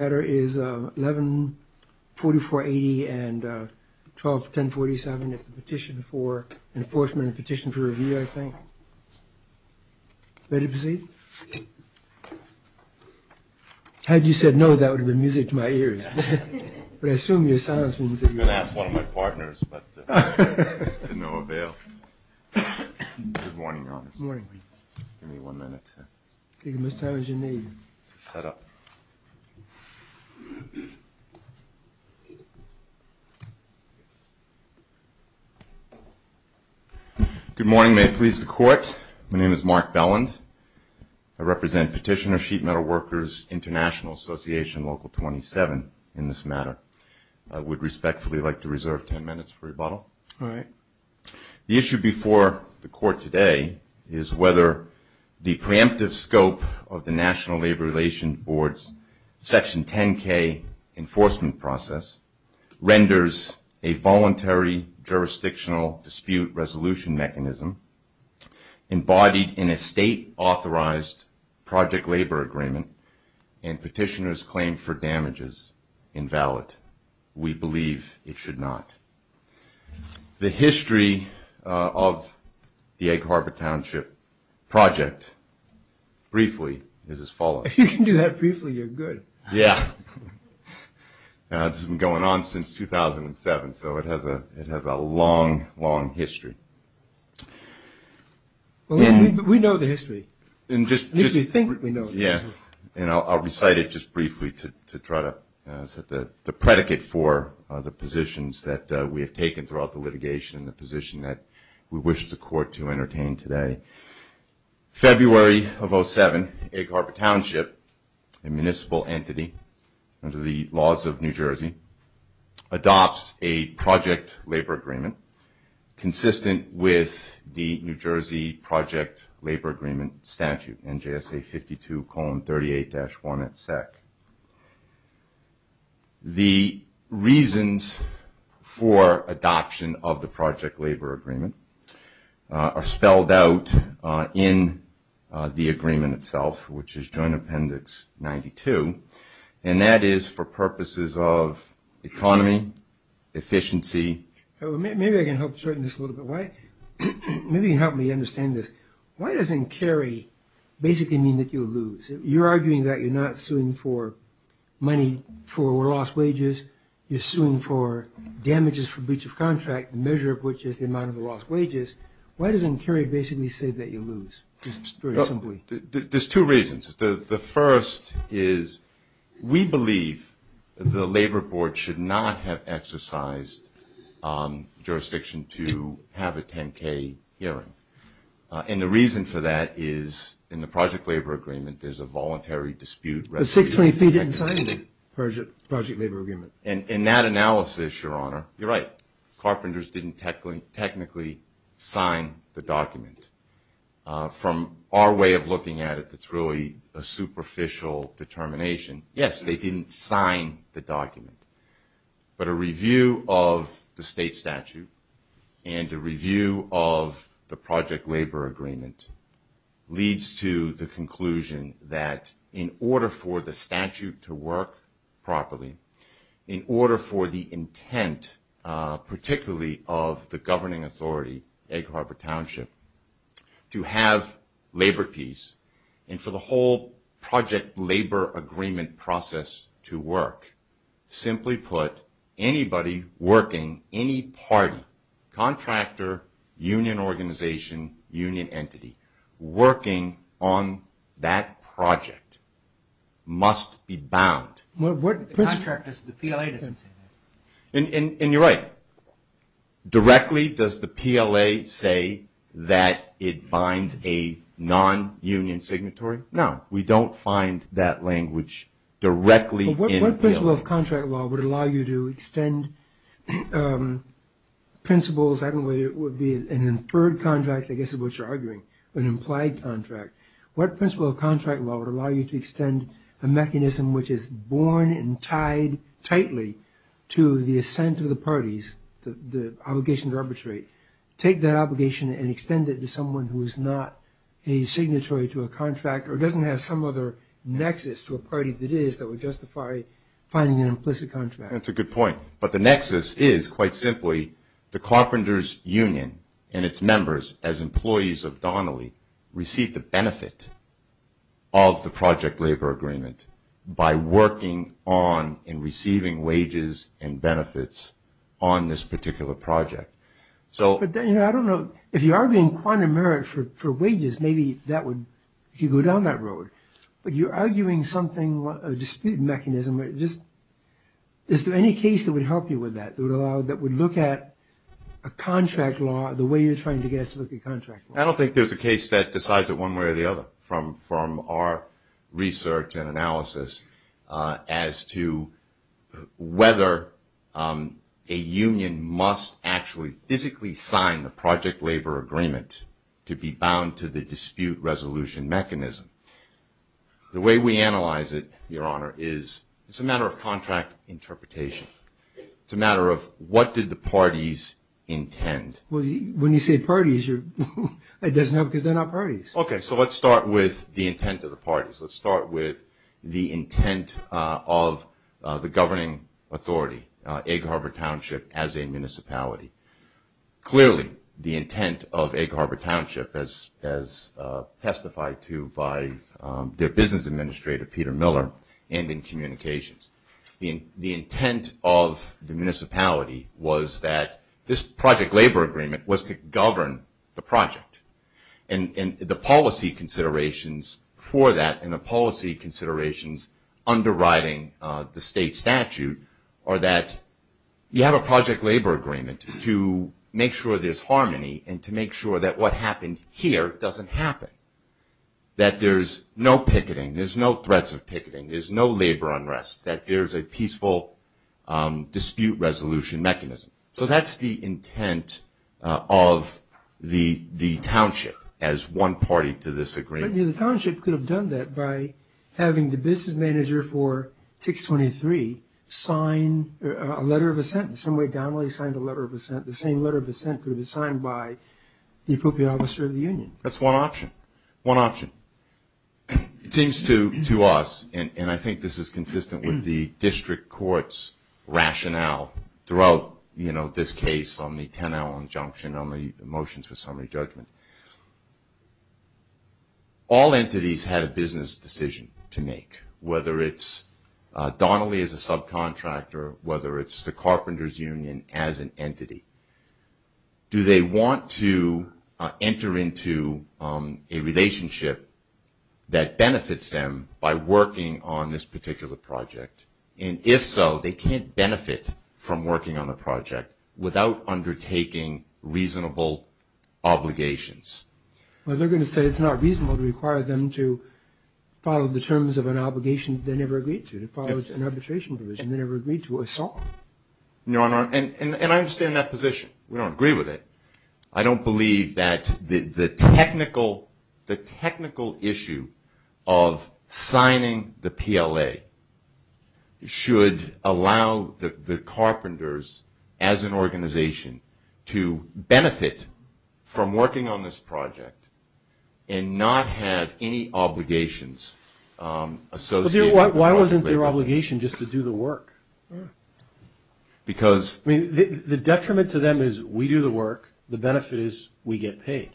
114480 and 1047, Petition for Enforcement and Petition for Review, I think. Ready to proceed? Had you said no, that would have been music to my ears. But I assume your silence means that you're ready. I'm going to ask one of my partners, but to no avail. Good morning, Rob. Morning. Give me one minute. Mr. Howard, your name. Shut up. Good morning, may it please the court. My name is Mark Belland. I represent Petitioner Sheet Metal Workers International Association Local 27 in this matter. I would respectfully like to reserve 10 minutes for rebuttal. All right. The issue before the court today is whether the preemptive scope of the National Labor Relations Board's Section 10-K enforcement process renders a voluntary jurisdictional dispute resolution mechanism embodied in a state-authorized project labor agreement and Petitioner's claim for damages invalid. We believe it should not. The history of the Acre Harbor Township project, briefly, is as follows. If you can do that briefly, you're good. Yeah. This has been going on since 2007, so it has a long, long history. We know the history. We think we know the history. I'll recite it just briefly to try to set the predicate for the positions that we have taken throughout the litigation, the position that we wish the court to entertain today. February of 2007, Acre Harbor Township, a municipal entity under the laws of New Jersey, adopts a project labor agreement consistent with the New Jersey project labor agreement statute, NJSA 52, Column 38-1 at SEC. The reasons for adoption of the project labor agreement are spelled out in the agreement itself, which is Joint Appendix 92, and that is for purposes of economy, efficiency. Maybe I can help shorten this a little bit, right? Maybe you can help me understand this. Why doesn't Cary basically mean that you lose? You're arguing that you're not suing for money for lost wages. You're suing for damages for breach of contract, the measure of which is the amount of the lost wages. Why doesn't Cary basically say that you lose? There's two reasons. The first is we believe the labor board should not have exercised jurisdiction to have a 10-K hearing, and the reason for that is in the project labor agreement, there's a voluntary dispute. They didn't sign the project labor agreement. In that analysis, Your Honor, you're right. Carpenters didn't technically sign the document. From our way of looking at it, it's really a superficial determination. Yes, they didn't sign the document, but a review of the state statute and a review of the project labor agreement leads to the conclusion that in order for the statute to work properly, in order for the intent, particularly of the governing authority, Egg Harbor Township, to have labor peace and for the whole project labor agreement process to work, simply put, anybody working, any party, contractor, union organization, union entity, working on that project must be bound. The contract is the PLA. And you're right. Directly, does the PLA say that it finds a non-union signatory? No. We don't find that language directly in the PLA. What principle of contract law would allow you to extend principles? I don't know whether it would be an inferred contract, I guess is what you're arguing, but an implied contract. What principle of contract law would allow you to extend a mechanism which is born and tied tightly to the assent of the parties, the obligation to arbitrate? Take that obligation and extend it to someone who is not a signatory to a contract or doesn't have some other nexus to a party that is that would justify finding an implicit contract. That's a good point. But the nexus is, quite simply, the carpenters' union and its members as employees of Donnelly receive the benefit of the project labor agreement by working on and receiving wages and benefits on this particular project. I don't know, if you're arguing quantum merit for wages, maybe that would go down that road. But you're arguing something, a dispute mechanism. Is there any case that would help you with that, that would look at a contract law the way you're trying to get us to look at contract law? I don't think there's a case that decides it one way or the other from our research and analysis as to whether a union must actually physically sign the project labor agreement to be bound to the dispute resolution mechanism. The way we analyze it, Your Honor, is it's a matter of contract interpretation. It's a matter of what did the parties intend. When you say parties, it doesn't help because they're not parties. Okay, so let's start with the intent of the parties. Let's start with the intent of the governing authority, Egg Harbor Township as a municipality. Clearly, the intent of Egg Harbor Township as testified to by their business administrator, Peter Miller, and in communications. The intent of the municipality was that this project labor agreement was to govern the project. And the policy considerations for that and the policy considerations underwriting the state statute are that you have a project labor agreement to make sure there's harmony and to make sure that what happened here doesn't happen, that there's no picketing, there's no threats of picketing, there's no labor unrest, that there's a peaceful dispute resolution mechanism. So that's the intent of the township as one party to this agreement. The township could have done that by having the business manager for 623 sign a letter of assent. In some way, Donnelly signed a letter of assent. The same letter of assent could have been signed by the appropriate officer of the union. That's one option, one option. It seems to us, and I think this is consistent with the district court's rationale throughout this case on the 10-hour injunction on the motions for summary judgment. All entities had a business decision to make, whether it's Donnelly as a subcontractor, whether it's the carpenters' union as an entity. Do they want to enter into a relationship that benefits them by working on this particular project? And if so, they can't benefit from working on the project without undertaking reasonable obligations. Well, they're going to say it's not reasonable to require them to follow the terms of an obligation they never agreed to, to follow an arbitration provision they never agreed to or saw. No, and I understand that position. We don't agree with it. I don't believe that the technical issue of signing the PLA should allow the carpenters as an organization to benefit from working on this project and not have any obligations associated with it. Why wasn't their obligation just to do the work? The detriment to them is we do the work. The benefit is we get paid.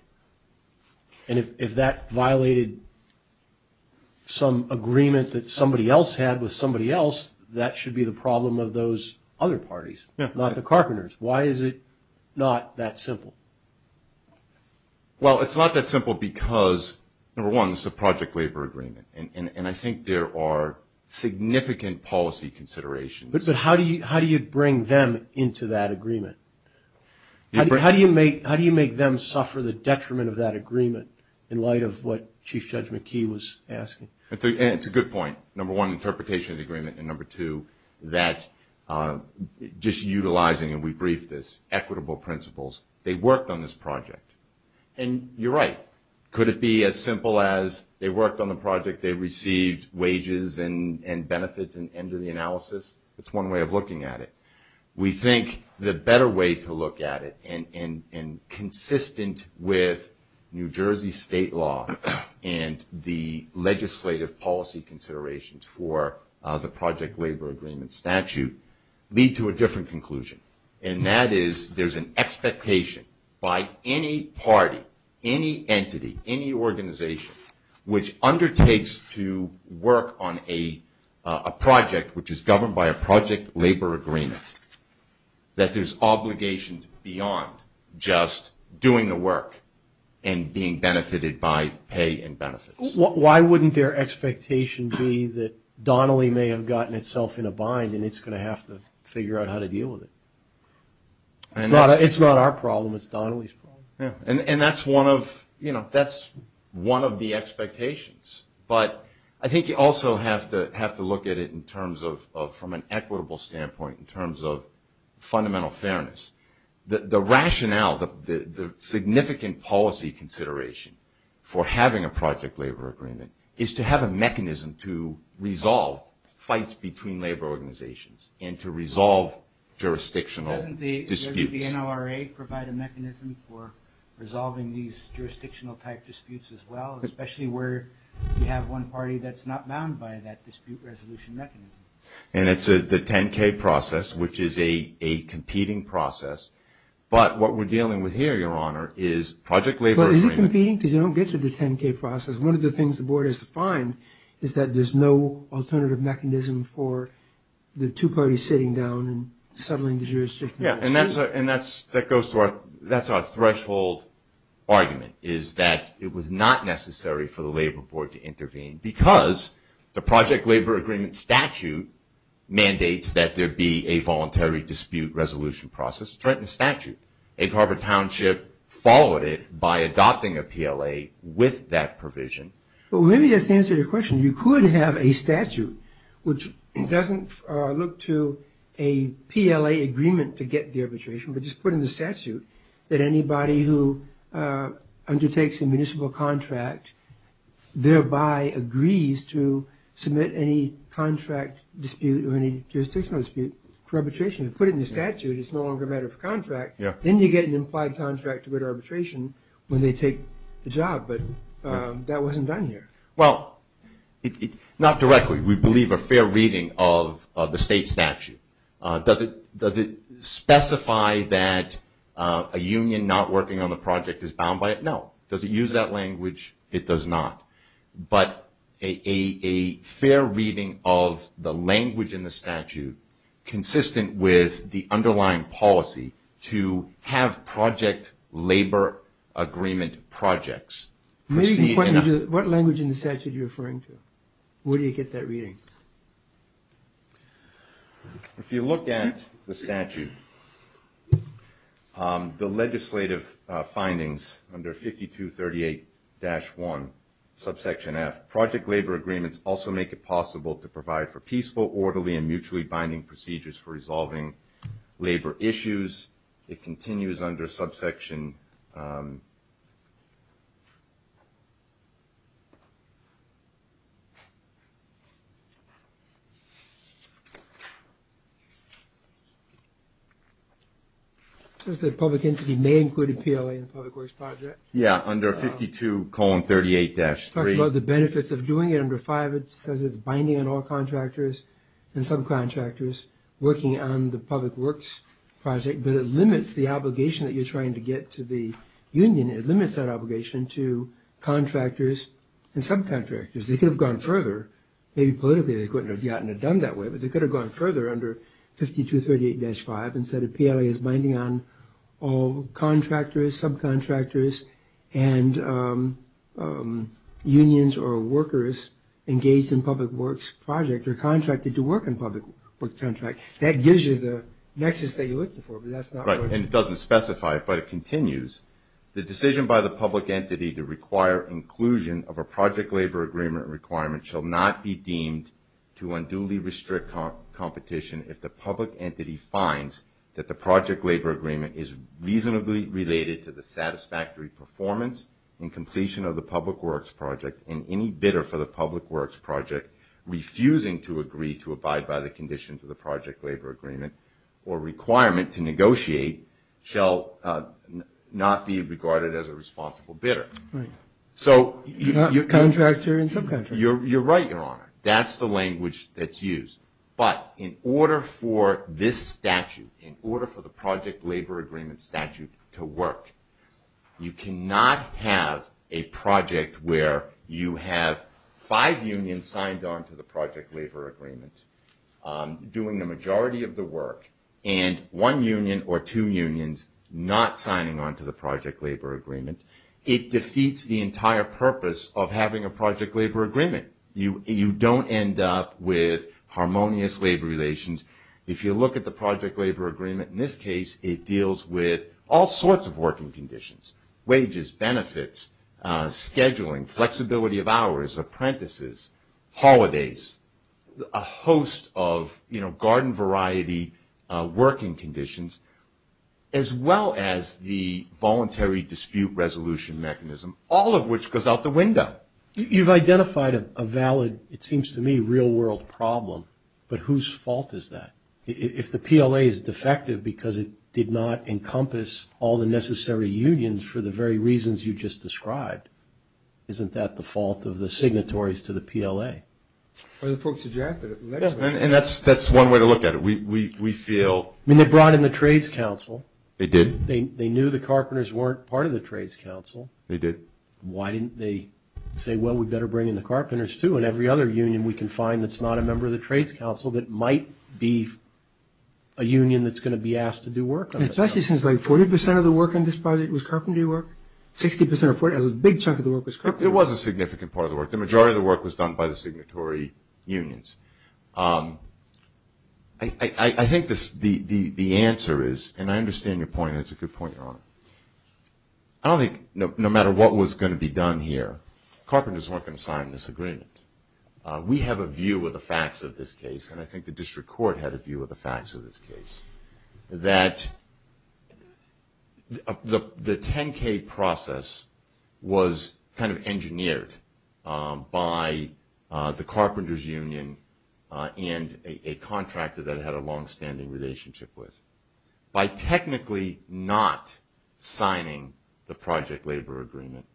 And if that violated some agreement that somebody else had with somebody else, that should be the problem of those other parties, not the carpenters. Why is it not that simple? Well, it's not that simple because, number one, it's a project labor agreement, and I think there are significant policy considerations. But how do you bring them into that agreement? How do you make them suffer the detriment of that agreement in light of what Chief Judge McKee was asking? It's a good point, number one, interpretation of the agreement, and number two, that just utilizing, and we briefed this, equitable principles. They worked on this project. And you're right. Could it be as simple as they worked on the project, they received wages and benefits at the end of the analysis? It's one way of looking at it. We think the better way to look at it, and consistent with New Jersey state law and the legislative policy considerations for the project labor agreement statute, lead to a different conclusion, and that is there's an expectation by any party, any entity, any organization, which undertakes to work on a project which is governed by a project labor agreement, that there's obligations beyond just doing the work and being benefited by pay and benefits. Why wouldn't their expectation be that Donnelly may have gotten itself in a bind and it's going to have to figure out how to deal with it? It's not our problem, it's Donnelly's problem. And that's one of the expectations. But I think you also have to look at it from an equitable standpoint, in terms of fundamental fairness. The rationale, the significant policy consideration for having a project labor agreement, is to have a mechanism to resolve fights between labor organizations and to resolve jurisdictional disputes. Doesn't the NORA provide a mechanism for resolving these jurisdictional-type disputes as well, especially where you have one party that's not bound by that dispute resolution mechanism? And it's the 10-K process, which is a competing process. But what we're dealing with here, Your Honor, is project labor agreement. But is it competing? Because you don't get to the 10-K process. One of the things the board has defined is that there's no alternative mechanism for the two parties sitting down and settling the jurisdictional disputes. And that's our threshold argument, is that it was not necessary for the labor board to intervene because the project labor agreement statute mandates that there be a voluntary dispute resolution process. A corporate township followed it by adopting a PLA with that provision. Well, maybe that's the answer to your question. You could have a statute which doesn't look to a PLA agreement to get the arbitration, but just put in the statute that anybody who undertakes a municipal contract thereby agrees to submit any contract dispute or any jurisdictional dispute for arbitration. If you put it in the statute, it's no longer a matter of contract. Then you get an implied contract to get arbitration when they take the job. But that wasn't done here. Well, not directly. We believe a fair reading of the state statute. Does it specify that a union not working on the project is bound by it? No. Does it use that language? It does not. But a fair reading of the language in the statute consistent with the underlying policy to have project labor agreement projects. What language in the statute are you referring to? Where do you get that reading? If you look at the statute, the legislative findings under 5238-1, subsection F, project labor agreements also make it possible to provide for peaceful, orderly, and mutually binding procedures for resolving labor issues. It continues under subsection... It says that public entities may include a PLA in a public works project. Yeah, under 52-38-3. The benefits of doing it under 5, it says it's binding on all contractors and subcontractors working on the public works project, but it limits the obligation that you're trying to get to the union. It limits that obligation to contractors and subcontractors. They could have gone further. Maybe politically they couldn't have gotten it done that way, but they could have gone further under 5238-5 and said a PLA is binding on all contractors, subcontractors, and unions or workers engaged in public works projects or contracted to work in public works contracts. That gives you the nexus that you're looking for, but that's not... Right, and it doesn't specify it, but it continues. The decision by the public entity to require inclusion of a project labor agreement requirement shall not be deemed to unduly restrict competition if the public entity finds that the project labor agreement is reasonably related to the satisfactory performance and completion of the public works project and any bidder for the public works project refusing to agree to abide by the conditions of the project labor agreement or requirement to negotiate shall not be regarded as a responsible bidder. Right. So... Contractor and subcontractor. You're right, Your Honor. That's the language that's used, but in order for this statute, in order for the project labor agreement statute to work, you cannot have a project where you have five unions signed on to the project labor agreements doing the majority of the work and one union or two unions not signing on to the project labor agreement. It defeats the entire purpose of having a project labor agreement. You don't end up with harmonious labor relations. If you look at the project labor agreement in this case, it deals with all sorts of working conditions, wages, benefits, scheduling, flexibility of hours, apprentices, holidays, a host of garden variety working conditions, as well as the voluntary dispute resolution mechanism, all of which goes out the window. You've identified a valid, it seems to me, real world problem, but whose fault is that? If the PLA is defective because it did not encompass all the necessary unions for the very reasons you just described, isn't that the fault of the signatories to the PLA? Well, the folks at JAFTA, whatever. And that's one way to look at it. We feel... I mean, they brought in the Trades Council. They did. They knew the carpenters weren't part of the Trades Council. They did. Why didn't they say, well, we better bring in the carpenters too, and every other union we can find that's not a member of the Trades Council that might be a union that's going to be asked to do work on it? It actually seems like 40% of the work on this project was carpentry work. 60% or 40%, a big chunk of the work was carpentry work. It was a significant part of the work. The majority of the work was done by the signatory unions. I think the answer is, and I understand your point, and it's a good point, Your Honor. I don't think, no matter what was going to be done here, carpenters weren't going to sign this agreement. We have a view of the facts of this case, and I think the district court had a view of the facts of this case, that the 10-K process was kind of engineered by the carpenters' union and a contractor that it had a longstanding relationship with. By technically not signing the project labor agreement,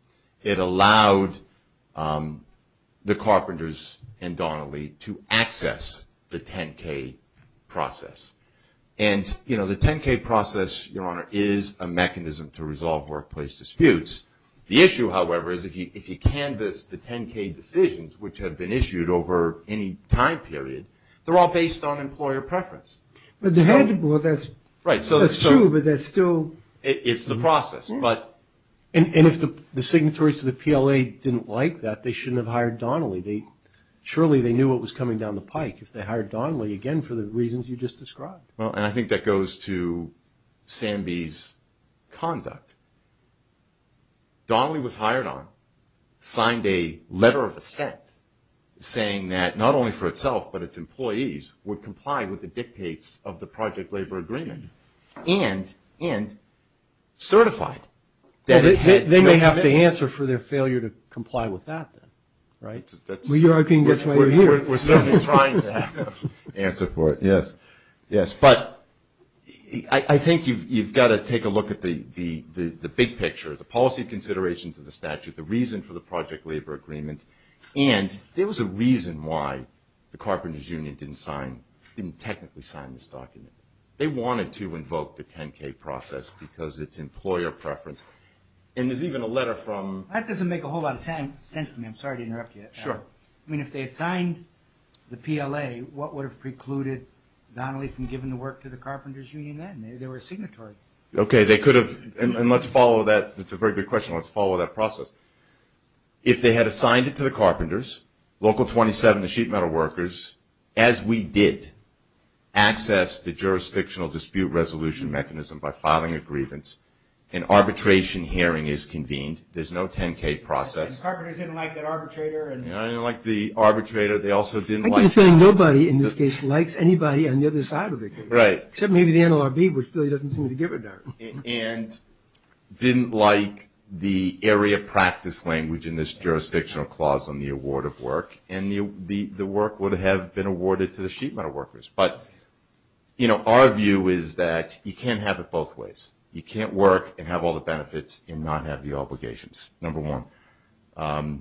it allowed the carpenters and Donnelly to access the 10-K process. And the 10-K process, Your Honor, is a mechanism to resolve workplace disputes. The issue, however, is if you canvass the 10-K decisions, which have been issued over any time period, they're all based on employer preference. Well, that's true, but there's still… It's the process. And if the signatories to the PLA didn't like that, they shouldn't have hired Donnelly. Surely they knew what was coming down the pike if they hired Donnelly, again, for the reasons you just described. Well, and I think that goes to Sandi's conduct. Donnelly was hired on, signed a letter of assent, saying that not only for itself, but its employees, were complying with the dictates of the project labor agreement and certified. They may have the answer for their failure to comply with that, right? We're certainly trying to have an answer for it, yes. But I think you've got to take a look at the big picture, the policy considerations of the statute, the reason for the project labor agreement. And there was a reason why the Carpenters Union didn't technically sign this document. They wanted to invoke the 10-K process because it's employer preference. And there's even a letter from… That doesn't make a whole lot of sense to me. I'm sorry to interrupt you. Sure. I mean, if they had signed the PLA, what would have precluded Donnelly from giving the work to the Carpenters Union then? They were a signatory. Okay, they could have. And let's follow that. That's a very good question. Let's follow that process. If they had assigned it to the carpenters, Local 27, the sheet metal workers, as we did, access the jurisdictional dispute resolution mechanism by filing a grievance, an arbitration hearing is convened. There's no 10-K process. The carpenters didn't like that arbitrator. They didn't like the arbitrator. They also didn't like… I can assume nobody in this case likes anybody on the other side of it. Right. Except maybe the NLRB, which really doesn't seem to give a darn. And didn't like the area practice language in this jurisdictional clause on the award of work. And the work would have been awarded to the sheet metal workers. But, you know, our view is that you can't have it both ways. You can't work and have all the benefits and not have the obligations, number one. I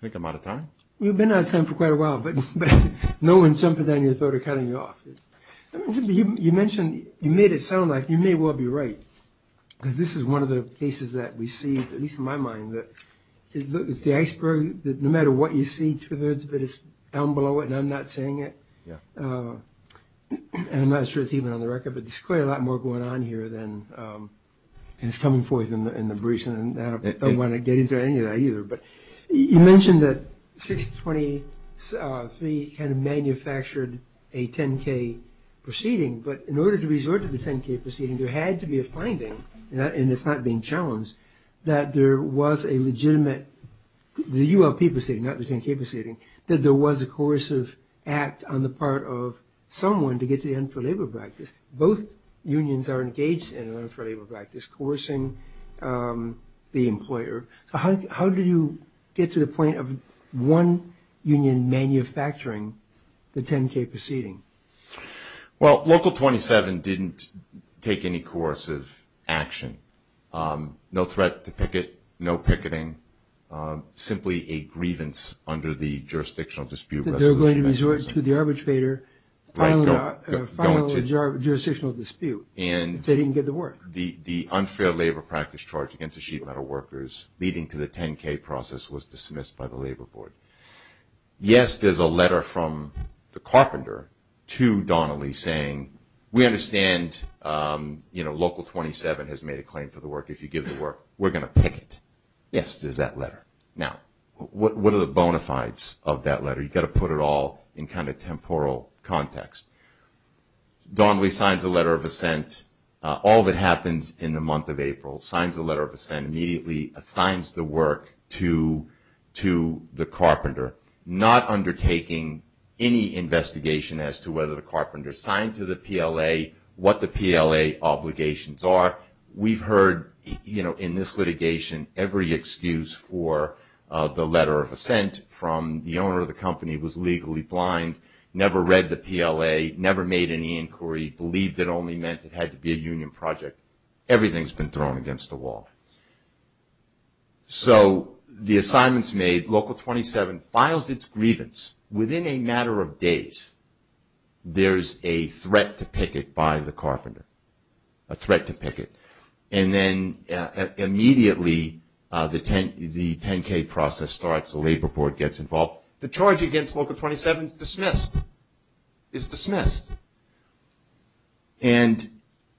think I'm out of time. You've been out of time for quite a while, but no one's jumping on your throat or cutting you off. You mentioned… You made it sound like you may well be right, because this is one of the cases that we see, at least in my mind, that it's the iceberg, that no matter what you see through the hoods of it, it's down below it, and I'm not saying it. I'm not sure it's even on the record, but there's clearly a lot more going on here than is coming forth in the briefs. And I don't want to get into any of that either. But you mentioned that 623 kind of manufactured a 10-K proceeding. But in order to resort to the 10-K proceeding, there had to be a finding, and it's not being challenged, that there was a legitimate – the ULP proceeding, not the 10-K proceeding – that there was a coercive act on the part of someone to get to the end for labor practice. Both unions are engaged in an end for labor practice, coercing the employer. How did you get to the point of one union manufacturing the 10-K proceeding? Well, Local 27 didn't take any coercive action – no threat to picket, no picketing, simply a grievance under the jurisdictional dispute resolution. That they were going to resort to the arbitrator following the jurisdictional dispute. They didn't get the work. The unfair labor practice charge against the sheet metal workers, leading to the 10-K process, was dismissed by the Labor Board. Yes, there's a letter from the carpenter to Donnelly saying, we understand Local 27 has made a claim for the work. If you give the work, we're going to picket. Yes, there's that letter. Now, what are the bona fides of that letter? You've got to put it all in kind of temporal context. Donnelly signs a letter of assent. All that happens in the month of April, signs a letter of assent, immediately assigns the work to the carpenter, not undertaking any investigation as to whether the carpenter signed to the PLA, what the PLA obligations are. We've heard, you know, in this litigation, every excuse for the letter of assent from the owner of the company, was legally blind, never read the PLA, never made any inquiry, believed it only meant it had to be a union project. Everything's been thrown against the wall. So the assignment's made. Local 27 files its grievance. Within a matter of days, there's a threat to picket by the carpenter, a threat to picket. And then immediately the 10-K process starts. The Labor Board gets involved. The charge against Local 27 is dismissed. It's dismissed. And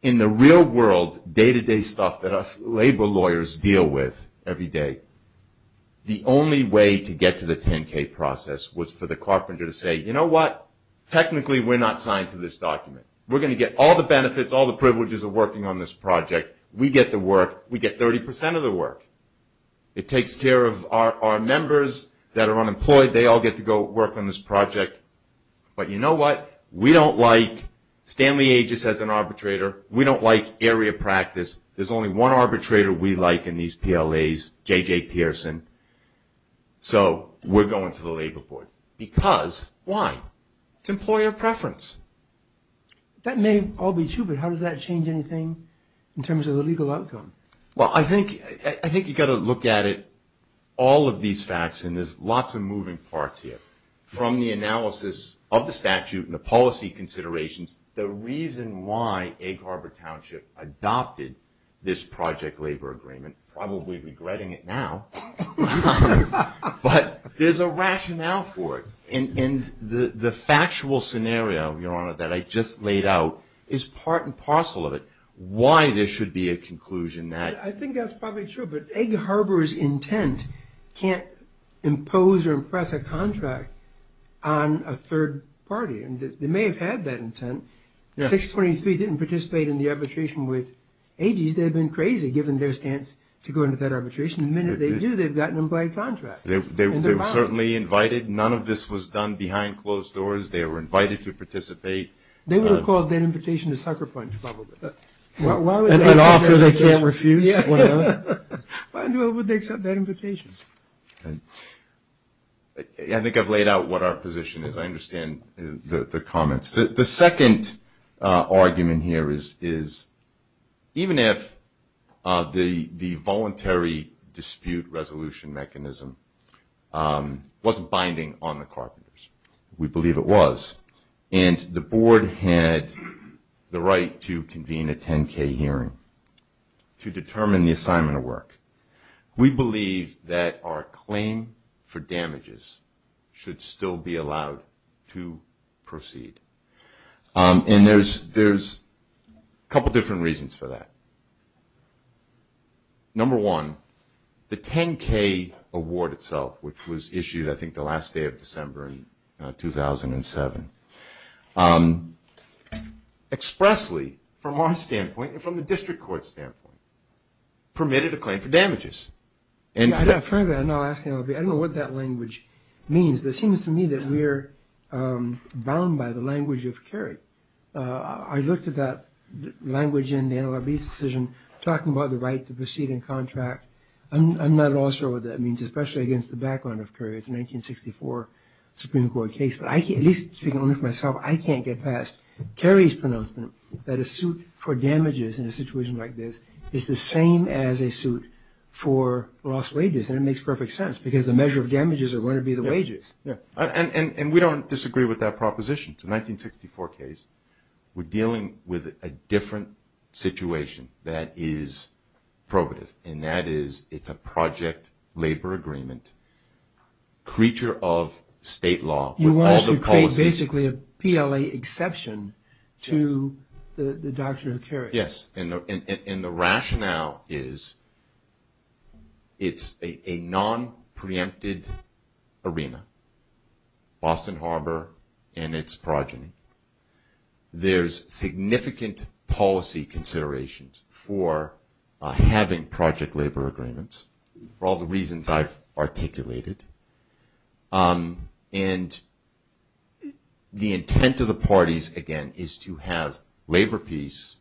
in the real world, day-to-day stuff that us labor lawyers deal with every day, the only way to get to the 10-K process was for the carpenter to say, you know what, technically we're not signed to this document. We're going to get all the benefits, all the privileges of working on this project. We get the work. We get 30% of the work. It takes care of our members that are unemployed. They all get to go work on this project. But you know what? We don't like Stanley Aegis as an arbitrator. We don't like area practice. There's only one arbitrator we like in these PLAs, J.J. Pearson. So we're going to the Labor Board. Because why? It's employer preference. That may all be true, but how does that change anything in terms of the legal outcome? Well, I think you've got to look at it, all of these facts, and there's lots of moving parts here. From the analysis of the statute and the policy considerations, the reason why Egg Harbor Township adopted this project labor agreement, probably regretting it now, but there's a rationale for it. And the factual scenario, Your Honor, that I just laid out is part and parcel of it, and why there should be a conclusion. I think that's probably true, but Egg Harbor's intent can't impose or impress a contract on a third party. They may have had that intent. 623 didn't participate in the arbitration with Aegis. They've been crazy, given their stance, to go into that arbitration. The minute they do, they've got an implied contract. They were certainly invited. None of this was done behind closed doors. They were invited to participate. They would have called that invitation a sucker punch, probably. An offer they can't refuse? Why would they accept that invitation? I think I've laid out what our position is. I understand the comments. The second argument here is even if the voluntary dispute resolution mechanism wasn't binding on the Carpenters, we believe it was, and the Board had the right to convene a 10-K hearing to determine the assignment of work. We believe that our claim for damages should still be allowed to proceed. And there's a couple different reasons for that. Number one, the 10-K award itself, which was issued, I think, the last day of December in 2007, expressly, from our standpoint and from the district court's standpoint, permitted a claim for damages. I don't know what that language means. It seems to me that we're bound by the language of Kerry. I looked at that language in the NLRB's decision talking about the right to proceed in contract. I'm not at all sure what that means, especially against the background of Kerry. It's a 1964 Supreme Court case. But at least speaking only for myself, I can't get past Kerry's pronouncement that a suit for damages in a situation like this is the same as a suit for lost wages. And it makes perfect sense because the measure of damages are going to be the wages. And we don't disagree with that proposition. It's a 1964 case. We're dealing with a different situation that is probative, and that is it's a project labor agreement, creature of state law. You want to pay basically a PLA exception to the doctrine of Kerry. Yes, and the rationale is it's a nonpreempted arena, Boston Harbor and its progeny. There's significant policy considerations for having project labor agreements, for all the reasons I've articulated. And the intent of the parties, again, is to have labor peace,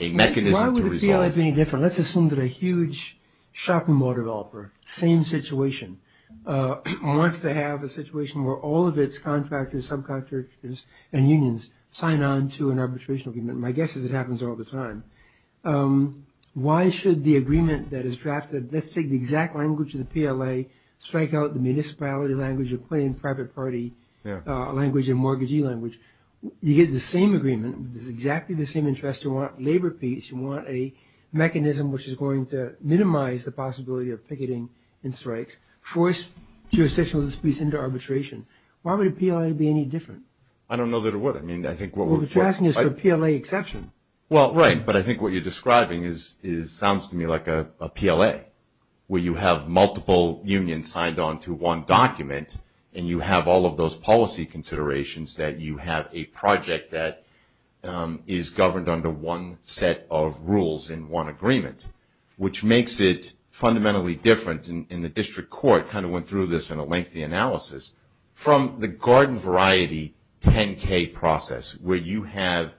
a mechanism to resolve. Why would the PLA be any different? Let's assume that a huge shopping mall developer, same situation, wants to have a situation where all of its contractors, subcontractors and unions sign on to an arbitration agreement. My guess is it happens all the time. Why should the agreement that is drafted, let's take the exact language of the PLA, strike out the municipality language or plain private party language or mortgagee language? You get the same agreement, exactly the same interest, you want labor peace, you want a mechanism which is going to minimize the possibility of picketing and strikes, force jurisdictional disputes into arbitration. Why would a PLA be any different? I don't know that it would. You're asking for a PLA exception. Well, right, but I think what you're describing sounds to me like a PLA, where you have multiple unions signed on to one document and you have all of those policy considerations that you have a project that is governed under one set of rules and one agreement, which makes it fundamentally different. And the district court kind of went through this in a lengthy analysis. From the garden variety 10-K process, where you have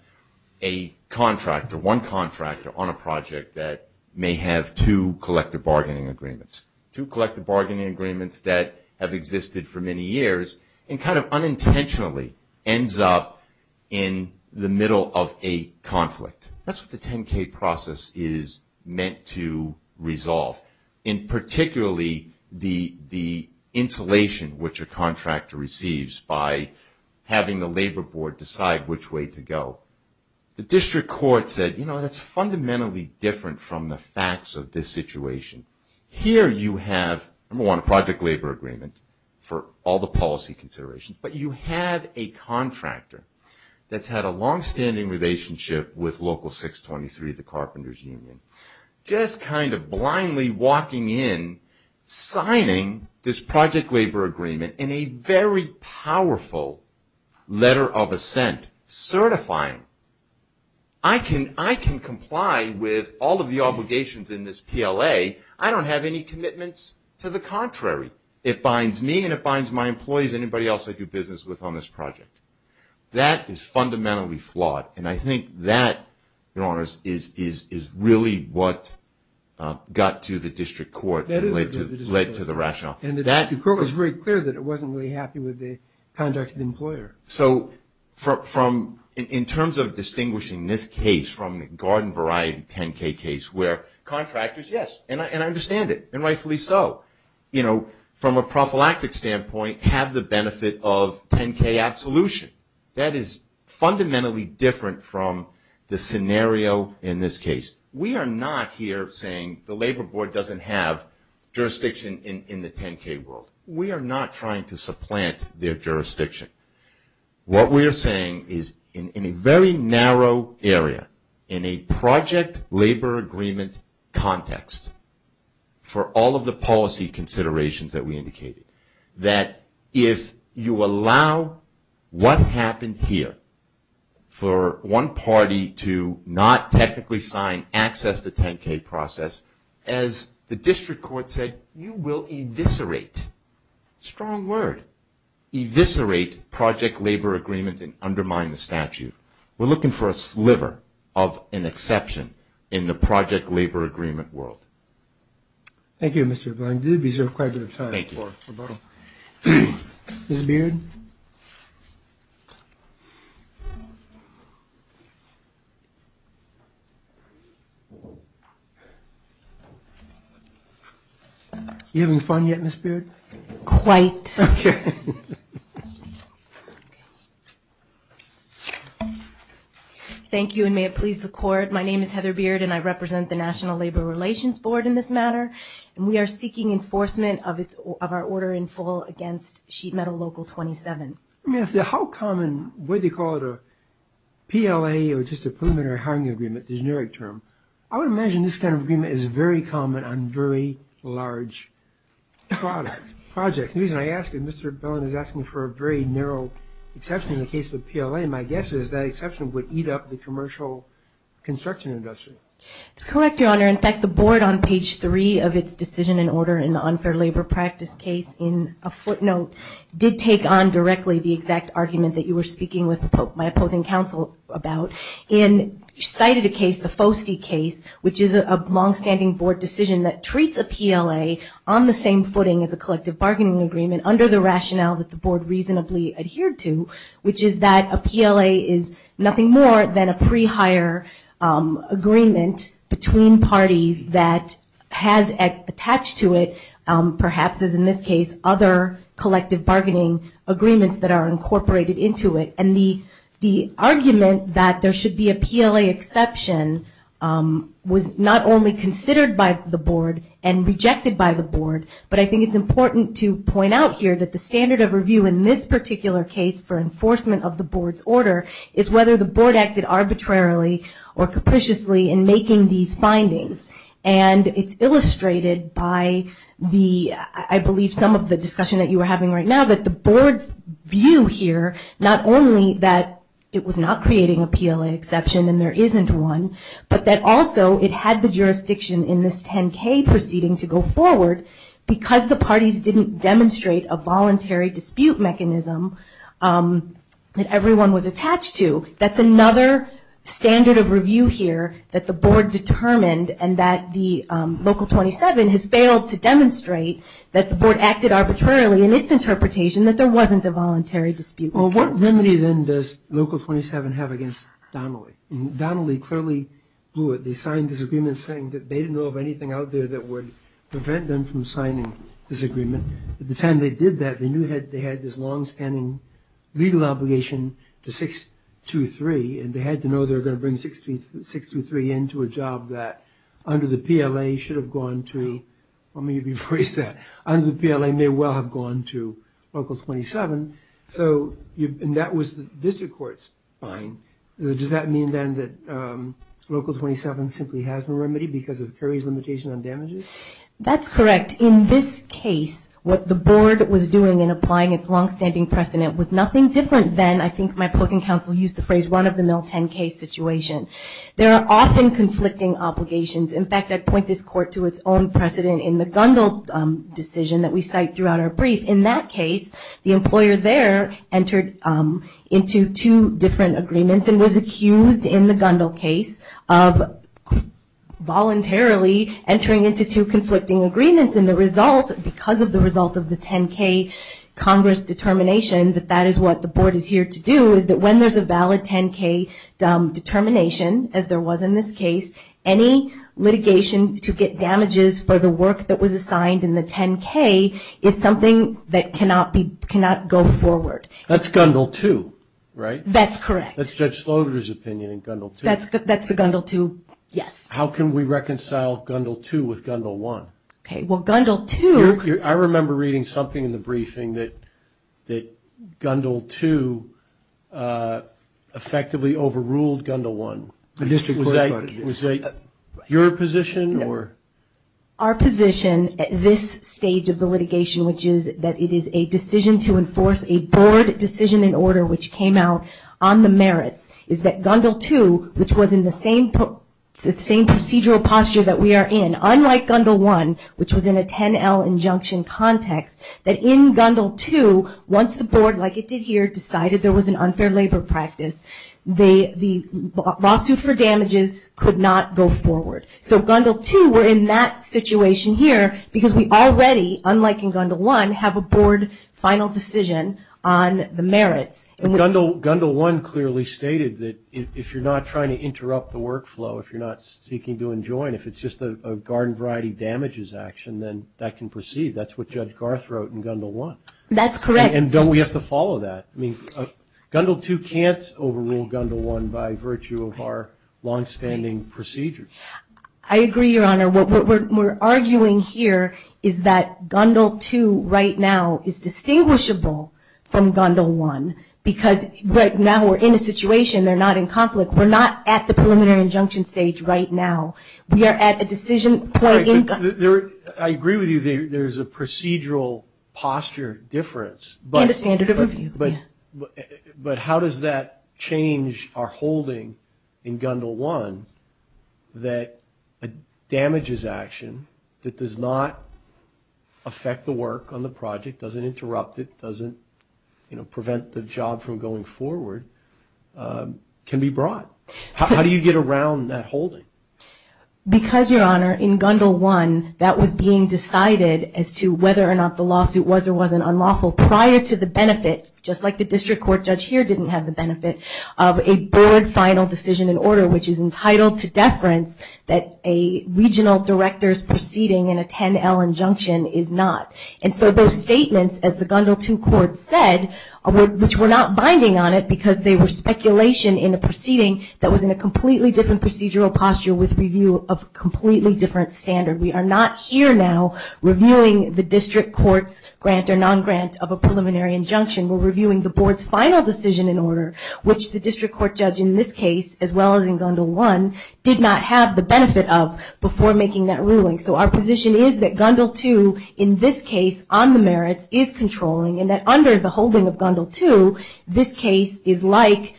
a contractor, one contractor on a project that may have two collective bargaining agreements, two collective bargaining agreements that have existed for many years and kind of unintentionally ends up in the middle of a conflict. That's what the 10-K process is meant to resolve. And particularly the insulation which a contractor receives by having the labor board decide which way to go. The district court said, you know, that's fundamentally different from the facts of this situation. Here you have, number one, a project labor agreement for all the policy considerations, but you have a contractor that's had a longstanding relationship with Local 623, the carpenters' union, just kind of blindly walking in, signing this project labor agreement in a very powerful letter of assent, certifying. I can comply with all of the obligations in this PLA. I don't have any commitments to the contrary. It fines me and it fines my employees and anybody else I do business with on this project. That is fundamentally flawed. And I think that, in all honesty, is really what got to the district court and led to the rationale. And the district court was very clear that it wasn't really happy with the contracted employer. So in terms of distinguishing this case from the garden variety 10-K case where contractors, yes, and I understand it and rightfully so, you know, from a prophylactic standpoint, have the benefit of 10-K absolution. That is fundamentally different from the scenario in this case. We are not here saying the labor board doesn't have jurisdiction in the 10-K world. We are not trying to supplant their jurisdiction. What we are saying is in a very narrow area, in a project labor agreement context, for all of the policy considerations that we indicated, that if you allow what happened here for one party to not technically sign access to 10-K process, as the district court said, you will eviscerate, strong word, eviscerate project labor agreement and undermine the statute. We are looking for a sliver of an exception in the project labor agreement world. Thank you, Mr. O'Brien. You did reserve quite a bit of time. Thank you. Mr. Beard? You having fun yet, Ms. Beard? Quite. Okay. Thank you, and may it please the court. My name is Heather Beard, and I represent the National Labor Relations Board in this matter, and we are seeking enforcement of our order in full against sheet metal Local 27. How common would you call it a PLA or just a preliminary hiring agreement, the generic term? I would imagine this kind of agreement is very common on very large projects. The reason I ask, and Mr. Bellin is asking for a very narrow exception in the case of PLA, and my guess is that exception would eat up the commercial construction industry. Correct, Your Honor. In fact, the board on page 3 of its decision in order in the unfair labor practice case, in a footnote, did take on directly the exact argument that you were speaking with my opposing counsel about and cited a case, a FOSTE case, which is a longstanding board decision that treats a PLA on the same footing as a collective bargaining agreement under the rationale that the board reasonably adhered to, which is that a PLA is nothing more than a pre-hire agreement between parties that has attached to it, perhaps, as in this case, other collective bargaining agreements that are incorporated into it. And the argument that there should be a PLA exception was not only considered by the board and rejected by the board, but I think it's important to point out here that the standard of review in this particular case for enforcement of the board's order is whether the board acted arbitrarily or capriciously in making these findings, and it's illustrated by the, I believe, some of the discussion that you were having right now, that the board's view here, not only that it was not creating a PLA exception and there isn't one, but that also it had the jurisdiction in this 10-K proceeding to go forward because the parties didn't demonstrate a voluntary dispute mechanism that everyone was attached to. That's another standard of review here that the board determined, and that the Local 27 has failed to demonstrate that the board acted arbitrarily in its interpretation, that there wasn't a voluntary dispute mechanism. Well, what remedy, then, does Local 27 have against Donnelly? Donnelly clearly blew it. They signed this agreement saying that they didn't know of anything out there that would prevent them from signing this agreement. By the time they did that, they knew they had this longstanding legal obligation to 623, and they had to know they were going to bring 623 into a job that, under the PLA, should have gone to, let me rephrase that, under the PLA may well have gone to Local 27, and that was the district court's fine. Does that mean, then, that Local 27 simply has no remedy because of Perry's limitation on damages? That's correct. In this case, what the board was doing in applying its longstanding precedent was nothing different than, I think my public counsel used the phrase, one of the no 10-K situations. There are often conflicting obligations. In fact, I point this court to its own precedent in the Gundle decision that we cite throughout our brief. In that case, the employer there entered into two different agreements and was accused in the Gundle case of voluntarily entering into two conflicting agreements, and the result, because of the result of the 10-K Congress determination, that that is what the board is here to do is that when there's a valid 10-K determination, as there was in this case, any litigation to get damages for the work that was assigned in the 10-K is something that cannot go forward. That's Gundle 2, right? That's correct. That's Judge Slaughter's opinion in Gundle 2. That's the Gundle 2, yes. How can we reconcile Gundle 2 with Gundle 1? Okay, well, Gundle 2... I remember reading something in the briefing that Gundle 2 effectively overruled Gundle 1. Was that your position or... Our position at this stage of the litigation, which is that it is a decision to enforce a board decision in order which came out on the merits, is that Gundle 2, which was in the same procedural posture that we are in, unlike Gundle 1, which was in a 10-L injunction context, that in Gundle 2, once the board, like it did here, decided there was an unfair labor practice, the lawsuits for damages could not go forward. So Gundle 2, we're in that situation here because we already, unlike in Gundle 1, have a board final decision on the merits. Gundle 1 clearly stated that if you're not trying to interrupt the workflow, if you're not seeking to enjoin, if it's just a garden variety damages action, then that can proceed. That's what Judge Garth wrote in Gundle 1. That's correct. And don't we have to follow that? Gundle 2 can't overrule Gundle 1 by virtue of our long-standing procedures. I agree, Your Honor. What we're arguing here is that Gundle 2 right now is distinguishable from Gundle 1 because right now we're in a situation. They're not in conflict. We're not at the preliminary injunction stage right now. We are at a decision point in Gundle 2. I agree with you. There's a procedural posture difference. And a standard of review. But how does that change our holding in Gundle 1 that a damages action that does not affect the work on the project, doesn't interrupt it, doesn't prevent the job from going forward, can be brought? How do you get around that holding? Because, Your Honor, in Gundle 1, that was being decided as to whether or not the lawsuit was and wasn't unlawful prior to the benefit, just like the district court judge here didn't have the benefit, of a board final decision in order, which is entitled to deference that a regional director's proceeding in a 10-L injunction is not. And so those statements, as the Gundle 2 court said, which were not binding on it because they were speculation in a proceeding that was in a completely different procedural posture with review of a completely different standard. We are not here now reviewing the district court's grant or non-grant of a preliminary injunction. We're reviewing the board's final decision in order, which the district court judge in this case, as well as in Gundle 1, did not have the benefit of before making that ruling. So our position is that Gundle 2, in this case, on the merits, is controlling, and that under the holding of Gundle 2, this case is like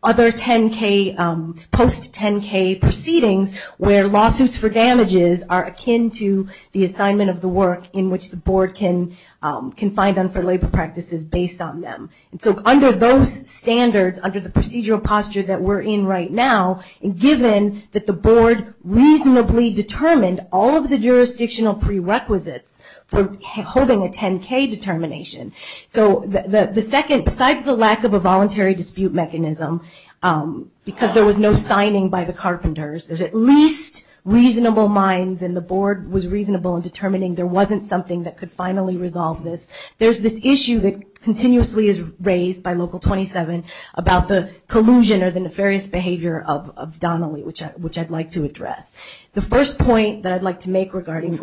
other post-10-K proceedings where lawsuits for damages are akin to the assignment of the work in which the board can find them for labor practices based on them. So under those standards, under the procedural posture that we're in right now, given that the board reasonably determined all of the jurisdictional prerequisites for holding a 10-K determination. So the second, besides the lack of a voluntary dispute mechanism, because there was no signing by the carpenters, there's at least reasonable minds and the board was reasonable in determining there wasn't something that could finally resolve this. There's this issue that continuously is raised by Local 27 about the collusion or the nefarious behavior of Donnelly, which I'd like to address. The first point that I'd like to make regarding...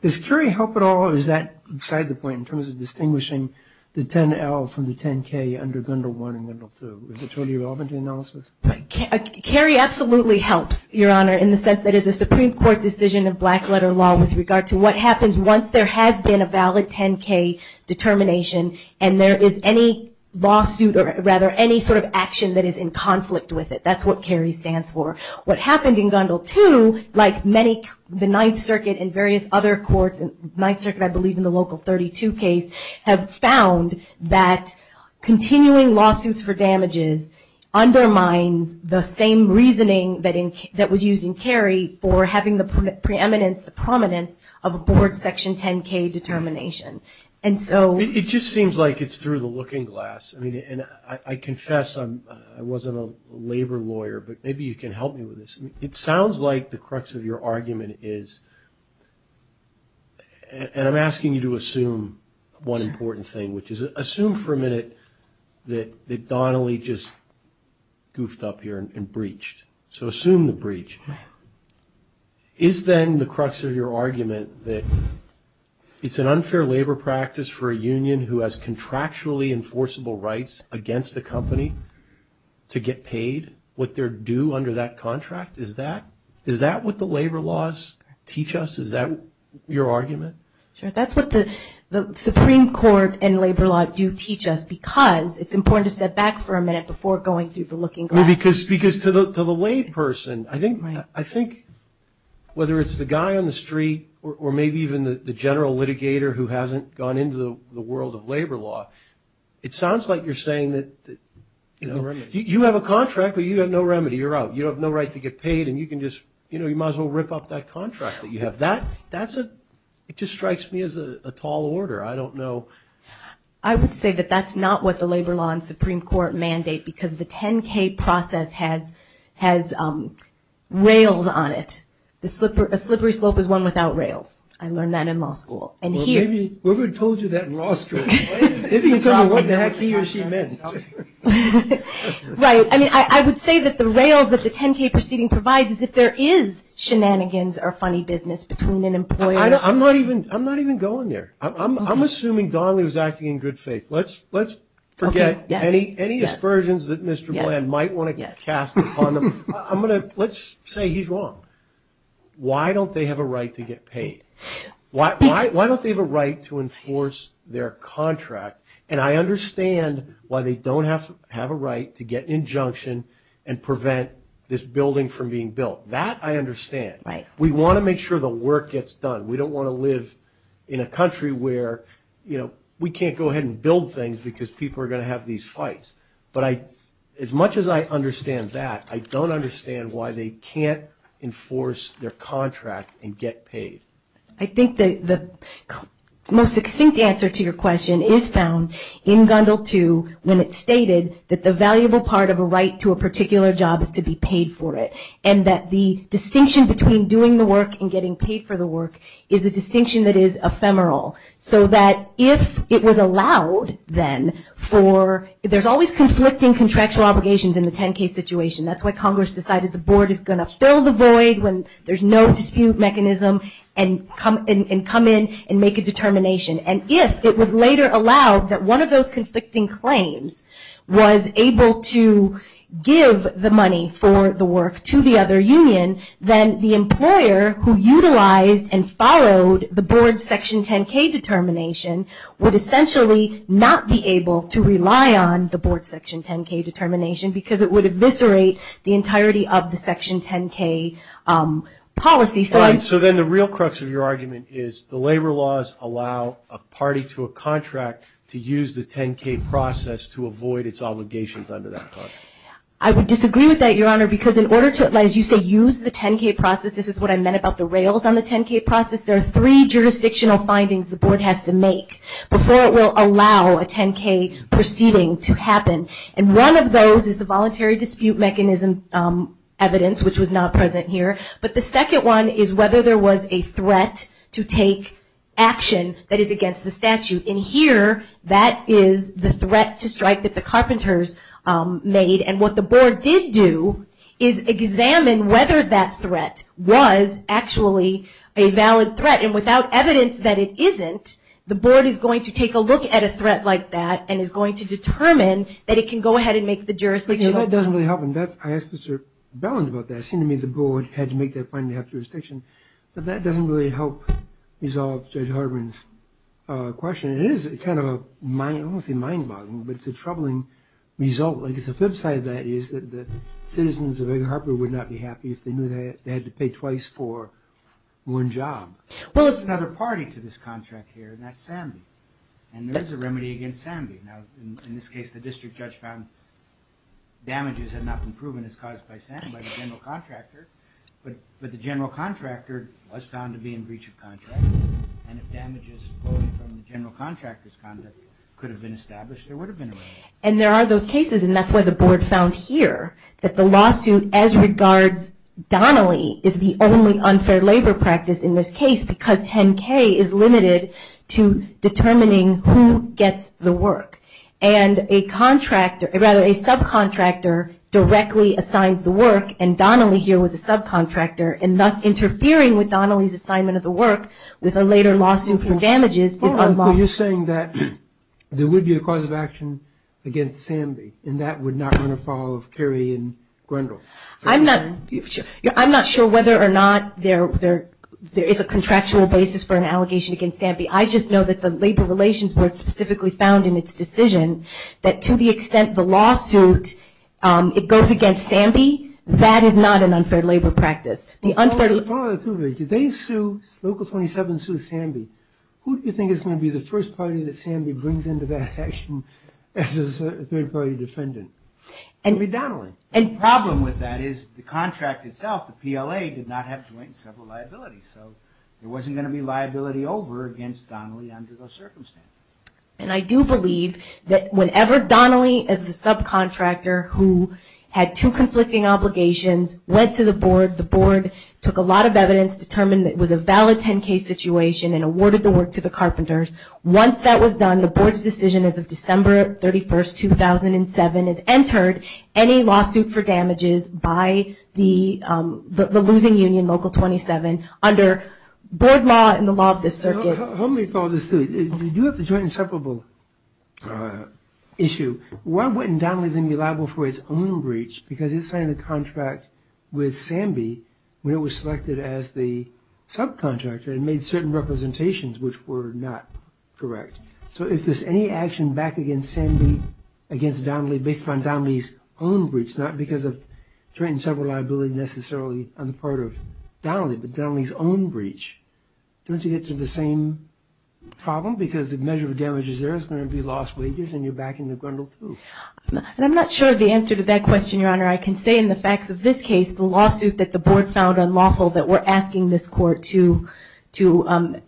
Does Curie help at all, or is that beside the point, in terms of distinguishing the 10-L from the 10-K under Gundle 1 and Gundle 2? Is it totally relevant to the analysis? Curie absolutely helps, Your Honor, in the sense that it's a Supreme Court decision of black-letter law with regard to what happens once there has been a valid 10-K determination and there is any lawsuit or, rather, any sort of action that is in conflict with it. That's what Curie stands for. What happened in Gundle 2, like many, the Ninth Circuit and various other courts, Ninth Circuit, I believe, in the Local 32 case, have found that continuing lawsuits for damages undermine the same reasoning that was used in Curie for having the preeminence, the prominence of a board Section 10-K determination. And so... It just seems like it's through the looking glass. I confess I wasn't a labor lawyer, but maybe you can help me with this. It sounds like the crux of your argument is... And I'm asking you to assume one important thing, which is assume for a minute that Donnelly just goofed up here and breached. So assume the breach. Is then the crux of your argument that it's an unfair labor practice for a union who has contractually enforceable rights against a company to get paid what they're due under that contract? Is that what the labor laws teach us? Is that your argument? Sure. That's what the Supreme Court and labor law do teach us because it's important to step back for a minute before going through the looking glass. Because to the lay person, I think whether it's the guy on the street or maybe even the general litigator who hasn't gone into the world of labor law, it sounds like you're saying that... You have no remedy. You're out. You have no right to get paid and you can just, you know, you might as well rip off that contract that you have. That's a... It just strikes me as a tall order. I don't know... I would say that that's not what the labor law and Supreme Court mandate because the 10-K process has railed on it. A slippery slope is one without rails. I learned that in law school. Well, maybe whoever told you that in law school didn't tell you what the heck he or she meant. Right. I mean, I would say that the rails that the 10-K proceeding provides is that there is shenanigans or funny business between an employer... I'm not even going there. I'm assuming Donley was acting in good faith. Let's forget any aspersions that Mr. Glenn might want to cast upon him. Let's say he's wrong. Why don't they have a right to get paid? Why don't they have a right to enforce their contract? And I understand why they don't have a right to get injunction and prevent this building from being built. That I understand. We want to make sure the work gets done. We don't want to live in a country where we can't go ahead and build things because people are going to have these fights. But as much as I understand that, I don't understand why they can't enforce their contract and get paid. I think the most succinct answer to your question is found in Gundle 2 when it stated that the valuable part of a right to a particular job is to be paid for it and that the distinction between doing the work and getting paid for the work is a distinction that is ephemeral. So that if it was allowed then for... There's always conflicting contractual obligations in the 10-K situation. That's why Congress decided the board is going to fill the void when there's no dispute mechanism and come in and make a determination. And if it was later allowed that one of those conflicting claims was able to give the money for the work to the other union, then the employer who utilized and followed the board's Section 10-K determination would essentially not be able to rely on the board's Section 10-K determination because it would eviscerate the entirety of the Section 10-K policy. So then the real crux of your argument is the labor laws allow a party to a contract to use the 10-K process to avoid its obligations under that clause. I would disagree with that, Your Honor, because in order to, as you say, use the 10-K process, this is what I meant about the rails on the 10-K process, there are three jurisdictional findings the board has to make before it will allow a 10-K proceeding to happen. And one of those is the voluntary dispute mechanism evidence, which was not present here. But the second one is whether there was a threat to take action that is against the statute. And here that is the threat to strike that the carpenters made. And what the board did do is examine whether that threat was actually a valid threat. And without evidence that it isn't, the board is going to take a look at a threat like that and is going to determine that it can go ahead and make the jurisdiction. But that doesn't really help. I asked Mr. Bellin about that. It seemed to me the board had to make that finding to have jurisdiction. But that doesn't really help resolve Judge Harper's question. It is kind of a mind-boggling, but it's a troubling result. Because the flip side of that is that the citizens of Eden Harbor would not be happy if they knew they had to pay twice for one job. Well, there's another party to this contract here, and that's Sandy. And there's a remedy against Sandy. Now, in this case, the district judge found damages had not been proven as caused by Sandy, by the general contractor. But the general contractor was found to be in breach of contract. And if damages from the general contractor's conduct could have been established, there would have been a remedy. And there are those cases, and that's what the board found here, that the lawsuit as regards Donnelly is the only unfair labor practice in this case because 10-K is limited to determining who gets the work. And a subcontractor directly assigns the work, and Donnelly here was a subcontractor, and thus interfering with Donnelly's assignment of the work with a later lawsuit for damages. You're saying that there would be a cause of action against Sandy, and that would not run afoul of Kerry and Grendel. I'm not sure whether or not there is a contractual basis for an allegation against Sandy. I just know that the Labor Relations Board specifically found in its decision that to the extent the lawsuit, it goes against Sandy, that is not an unfair labor practice. The unfair labor practice. If they sue, Local 27 sues Sandy, who do you think is going to be the first party that Sandy brings into that section as a third-party defendant? And with Donnelly. And the problem with that is the contract itself, the PLA, did not have joint and several liabilities. So there wasn't going to be liability over against Donnelly under those circumstances. And I do believe that whenever Donnelly as a subcontractor who had two conflicting obligations went to the board, the board took a lot of evidence, determined that it was a valid 10-K situation, and awarded the work to the Carpenters, once that was done, the board's decision as of December 31st, 2007, it entered any lawsuit for damages by the losing union, Local 27, under board law and the law of the circuit. Let me follow this through. If you have a joint and several issues, why wouldn't Donnelly be liable for its own breach? Because it signed a contract with Sandy when it was selected as the subcontractor and made certain representations which were not correct. So if there's any action back against Sandy, against Donnelly, based on Donnelly's own breach, not because of joint and several liabilities necessarily on the part of Donnelly, but Donnelly's own breach, doesn't it get to the same problem? Because the measure of damages there is going to be lost wages and you're backing the grundle proof. And I'm not sure the answer to that question, Your Honor. I can say in the facts of this case, the lawsuit that the board filed on lawful, that we're asking this court to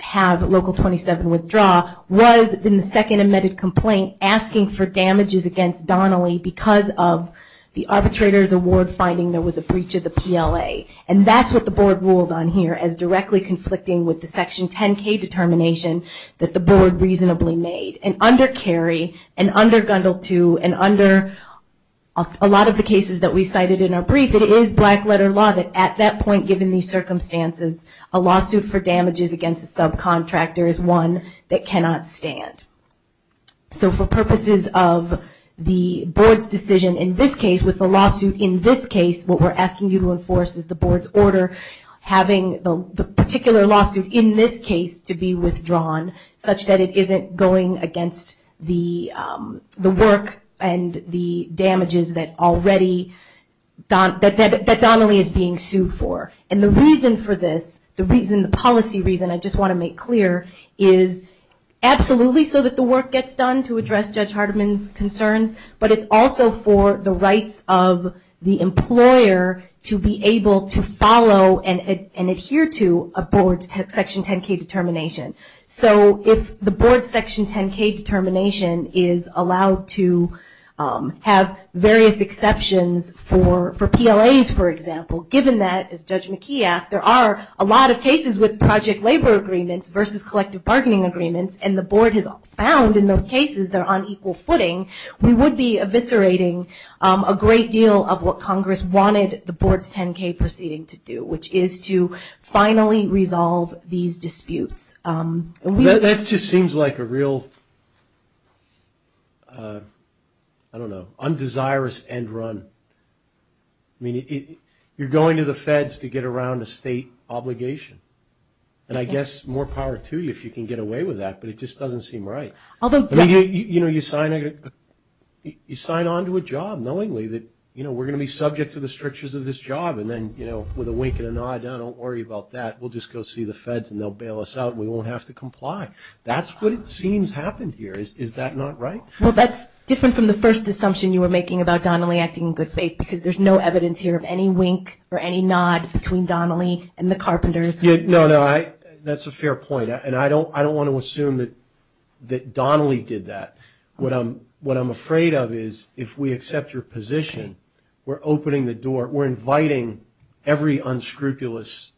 have Local 27 withdraw, was in the second amended complaint asking for damages against Donnelly because of the arbitrator's award finding there was a breach of the PLA. And that's what the board ruled on here as directly conflicting with the Section 10K determination that the board reasonably made. And under Cary and under Grundle 2 and under a lot of the cases that we cited in our brief, it is black letter law that at that point, given these circumstances, a lawsuit for damages against a subcontractor is one that cannot stand. So for purposes of the board's decision in this case, with the lawsuit in this case, what we're asking you to enforce is the board's order having the particular lawsuit in this case to be withdrawn, such that it isn't going against the work and the damages that already Donnelly is being sued for. And the reason for this, the policy reason I just want to make clear, is absolutely so that the work gets done to address Judge Hardiman's concerns, but it's also for the rights of the employer to be able to follow and adhere to a board's Section 10K determination. So if the board's Section 10K determination is allowed to have various exceptions for PLAs, for example, given that, as Judge McKee asked, there are a lot of cases with project labor agreements versus collective bargaining agreements, and the board has found in those cases they're on equal footing, we would be eviscerating a great deal of what Congress wanted the board's 10K proceeding to do, which is to finally resolve these disputes. That just seems like a real, I don't know, undesirous end run. I mean, you're going to the feds to get around a state obligation, and I guess more power to you if you can get away with that, but it just doesn't seem right. You know, you sign on to a job knowingly that, you know, we're going to be subject to the strictures of this job, and then, you know, with a wink and a nod, don't worry about that, we'll just go see the feds and they'll bail us out and we won't have to comply. That's what it seems happened here. Is that not right? Well, that's different from the first assumption you were making about Donnelly acting in good faith because there's no evidence here of any wink or any nod between Donnelly and the Carpenters. No, no, that's a fair point, and I don't want to assume that Donnelly did that. What I'm afraid of is if we accept your position, we're opening the door, we're inviting every unscrupulous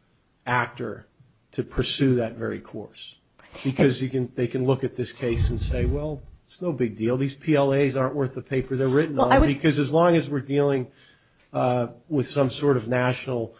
actor to pursue that very course because they can look at this case and say, well, it's no big deal, these PLAs aren't worth the paper they're written on, because as long as we're dealing with some sort of national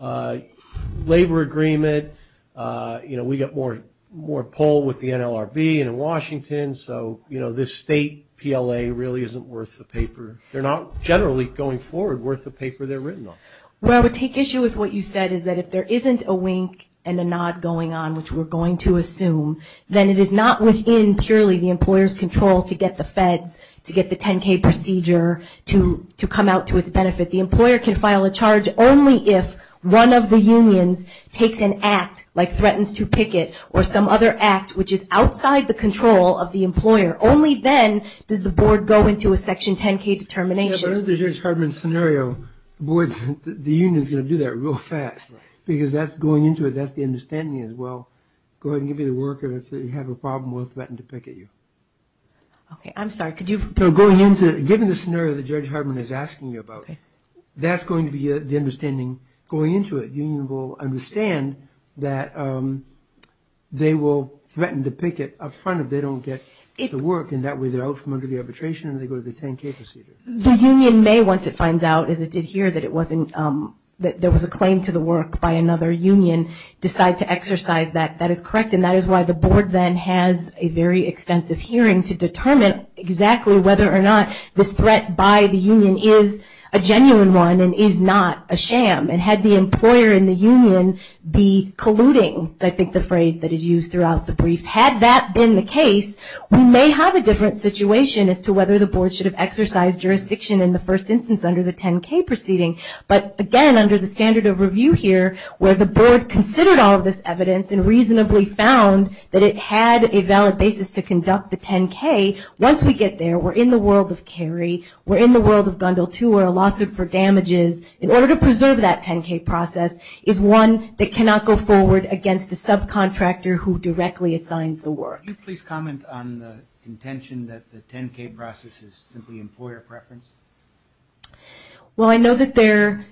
labor agreement, you know, we get more pull with the NLRB and Washington, so, you know, this state PLA really isn't worth the paper. They're not generally going forward worth the paper they're written on. What I would take issue with what you said is that if there isn't a wink and a nod going on, which we're going to assume, then it is not within, truly, the employer's control to get the feds, to get the 10-K procedure to come out to its benefit. The employer can file a charge only if one of the unions takes an act, like threatens to picket, or some other act which is outside the control of the employer. Only then does the board go into a Section 10-K determination. Under Judge Hardman's scenario, the union is going to do that real fast, because that's going into it. That's the understanding as well. Go ahead and give me the worker that you have a problem with that threatened to picket you. Okay, I'm sorry. Given the scenario that Judge Hardman is asking you about, that's going to be the understanding going into it. The union will understand that they will threaten to picket up front if they don't get the work, and that way they're out from under the arbitration and they go to the 10-K procedure. The union may, once it finds out, as it did here, that there was a claim to the work by another union, decide to exercise that. I think that is correct, and that is why the board then has a very extensive hearing to determine exactly whether or not the threat by the union is a genuine one and is not a sham. And had the employer and the union be colluding, I think the phrase that is used throughout the brief, had that been the case, we may have a different situation as to whether the board should have exercised jurisdiction in the first instance under the 10-K proceeding. But, again, under the standard of review here, where the board considered all of this evidence and reasonably found that it had a valid basis to conduct the 10-K, once we get there, we're in the world of carry, we're in the world of dundle tour, a lawsuit for damages. In order to preserve that 10-K process is one that cannot go forward against the subcontractor who directly assigns the work. Could you please comment on the contention that the 10-K process is simply employer preference? Well, I know that there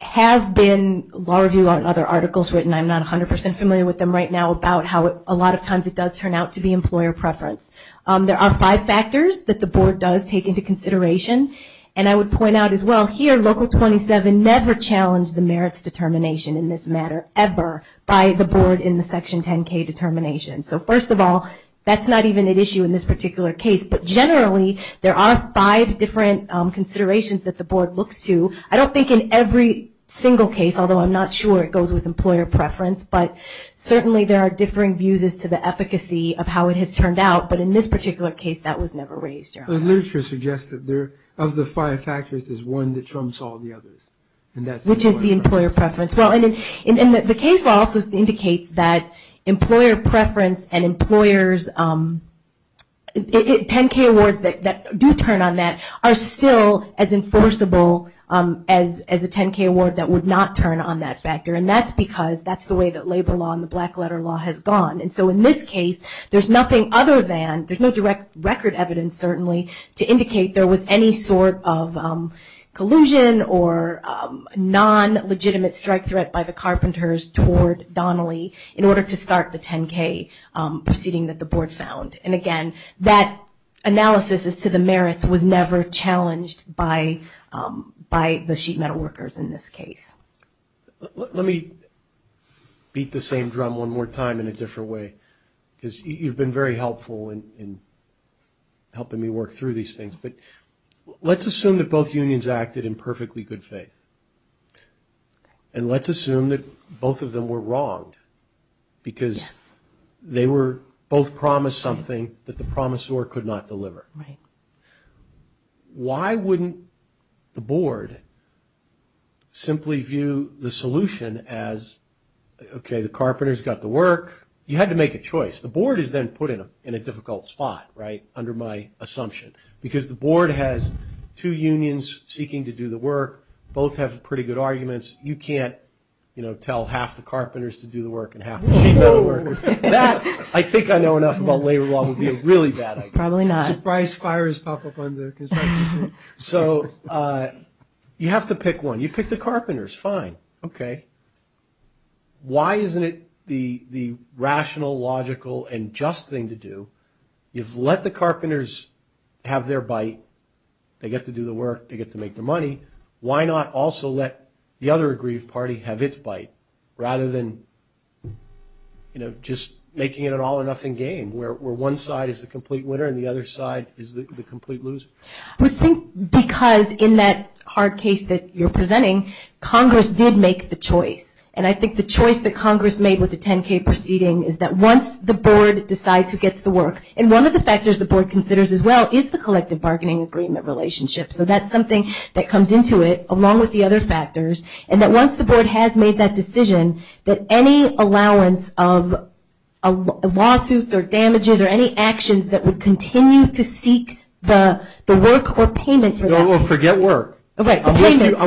has been law review on other articles written. I'm not 100% familiar with them right now about how a lot of times it does turn out to be employer preference. There are five factors that the board does take into consideration. And I would point out as well, here, Local 27 never challenged the merits determination in this matter, ever, by the board in the Section 10-K determination. So, first of all, that's not even at issue in this particular case. But generally, there are five different considerations that the board looks to. I don't think in every single case, although I'm not sure it goes with employer preference, but certainly there are differing views as to the efficacy of how it has turned out. But in this particular case, that was never raised. The literature suggests that of the five factors, there's one that trumps all the others. Which is the employer preference. And the case law also indicates that employer preference and employers, 10-K awards that do turn on that, are still as enforceable as a 10-K award that would not turn on that factor. And that's because that's the way that labor law and the black letter law has gone. And so in this case, there's nothing other than, there's no direct record evidence, certainly, to indicate there was any sort of collusion or non-legitimate strike threat by the carpenters toward Donnelly, in order to start the 10-K proceeding that the board found. And, again, that analysis as to the merits was never challenged by the sheet metal workers in this case. Let me beat the same drum one more time in a different way. Because you've been very helpful in helping me work through these things. But let's assume that both unions acted in perfectly good faith. And let's assume that both of them were wronged. Because they were both promised something that the promisor could not deliver. Why wouldn't the board simply view the solution as, okay, the carpenters got the work. You had to make a choice. The board is then put in a difficult spot, right, under my assumption. Because the board has two unions seeking to do the work. Both have pretty good arguments. You can't, you know, tell half the carpenters to do the work and half the sheet metal workers. That, I think I know enough about labor law, would be a really bad idea. Probably not. Surprise fires pop up under construction. So you have to pick one. You pick the carpenters. Fine. Okay. Why isn't it the rational, logical, and just thing to do? You've let the carpenters have their bite. They get to do the work. They get to make the money. Why not also let the other aggrieved party have its bite rather than, you know, just making it an all or nothing game where one side is the complete winner and the other side is the complete loser? I would think because in that hard case that you're presenting, Congress did make the choice. And I think the choice that Congress made with the 10-K proceeding is that once the board decides who gets the work, and one of the factors the board considers as well is the collective bargaining agreement relationship. So that's something that comes into it along with the other factors. And that once the board has made that decision, that any allowance of lawsuits or damages or any actions that would continue to seek the work or payment for that. Well, forget work. I'm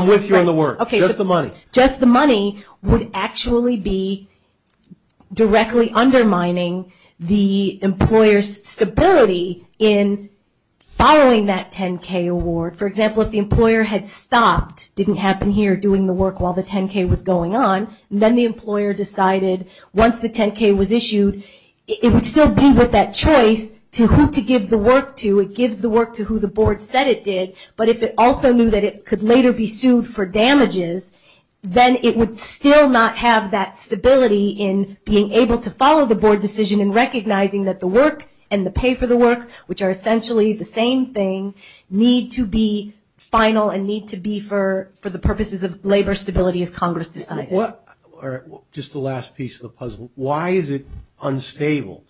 with you on the work. Just the money. Just the money would actually be directly undermining the employer's stability in borrowing that 10-K award. For example, if the employer had stopped, didn't happen here doing the work while the 10-K was going on, then the employer decided once the 10-K was issued, it would still be with that choice to who to give the work to. It gives the work to who the board said it did. But if it also knew that it could later be sued for damages, then it would still not have that stability in being able to follow the board decision in recognizing that the work and the pay for the work, which are essentially the same thing, need to be final and need to be for the purposes of labor stability Just the last piece of the puzzle. Why is it unstable?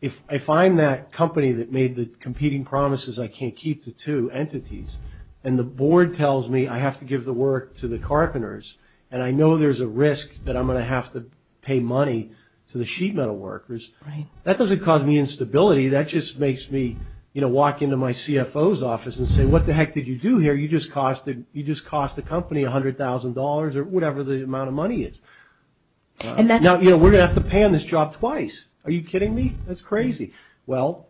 If I find that company that made the competing promises I can't keep to two entities, and the board tells me I have to give the work to the carpenters, and I know there's a risk that I'm going to have to pay money to the sheet metal workers, that doesn't cause me instability. That just makes me, you know, walk into my CFO's office and say, what the heck did you do here? You just cost the company $100,000 or whatever the amount of money is. Now, you know, we're going to have to pay on this job twice. Are you kidding me? That's crazy. Well,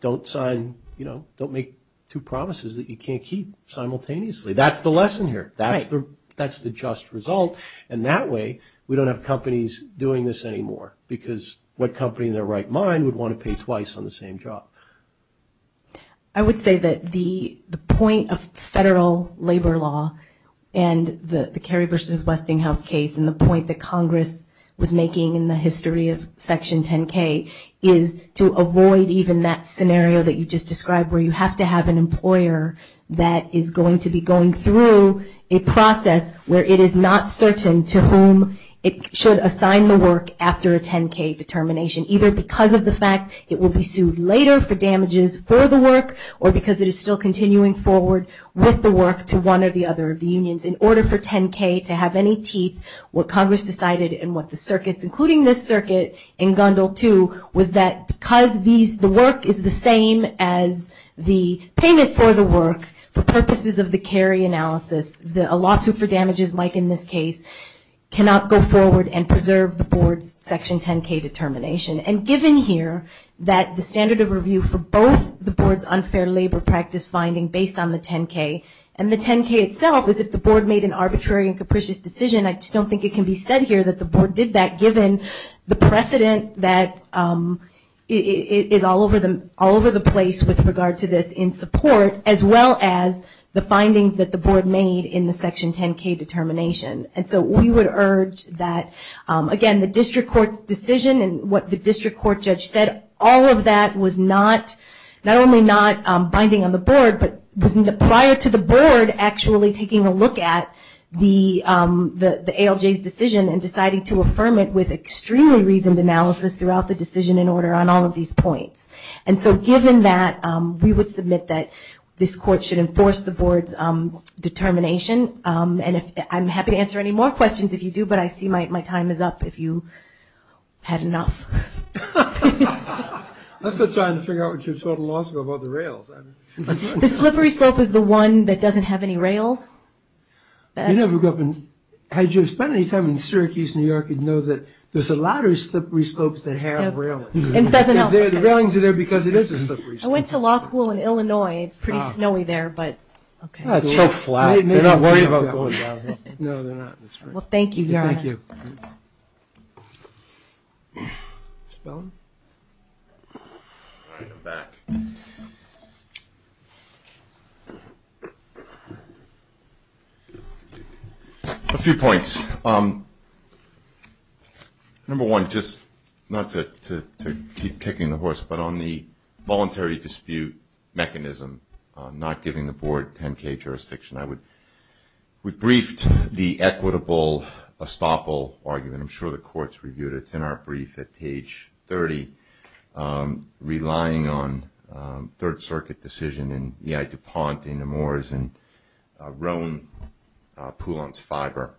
don't sign, you know, don't make two promises that you can't keep simultaneously. That's the lesson here. That's the just result, and that way we don't have companies doing this anymore, because what company in their right mind would want to pay twice on the same job? I would say that the point of federal labor law and the Kerry v. Westinghouse case and the point that Congress was making in the history of Section 10-K is to avoid even that scenario that you just described where you have to have an employer that is going to be going through a process where it is not certain to whom it should assign the work after a 10-K determination, either because of the fact it will be sued later for damages for the work or because it is still continuing forward with the work to one or the other of the unions. In order for 10-K to have any teeth, what Congress decided and what the circuits, including this circuit in Gundle 2, was that because the work is the same as the payment for the work, for purposes of the Kerry analysis, a lawsuit for damages, like in this case, cannot go forward and preserve the board's Section 10-K determination. And given here that the standard of review for both the board's unfair labor practice finding based on the 10-K and the 10-K itself is that the board made an arbitrary and capricious decision, I just don't think it can be said here that the board did that, given the precedent that is all over the place with regard to this in support, as well as the findings that the board made in the Section 10-K determination. And so we would urge that, again, the district court's decision and what the district court judge said, all of that was not, not only not binding on the board, but prior to the board actually taking a look at the ALJ's decision and deciding to affirm it with extremely reasoned analysis throughout the decision in order on all of these points. And so given that, we would submit that this court should enforce the board's determination. And I'm happy to answer any more questions if you do, but I see my time is up. If you have enough. That's a good time to figure out what your total loss was with all the rails. The slippery slope is the one that doesn't have any rails. You never go up and, had you spent any time in Syracuse, New York, you'd know that there's a lot of slippery slopes that have rails. The railings are there because it is a slippery slope. I went to law school in Illinois. It's pretty snowy there, but. It's so flat. They're not worried about going down there. No, they're not. Well, thank you. Thank you. A few points. Number one, just not to keep kicking the horse, but on the voluntary dispute mechanism, not giving the board 10-K jurisdiction. We briefed the equitable estoppel argument. I'm sure the court's reviewed it. It's in our brief at page 30. Relying on Third Circuit decision in DePont, in Amores, in Rome, Poulenc, Fiverr,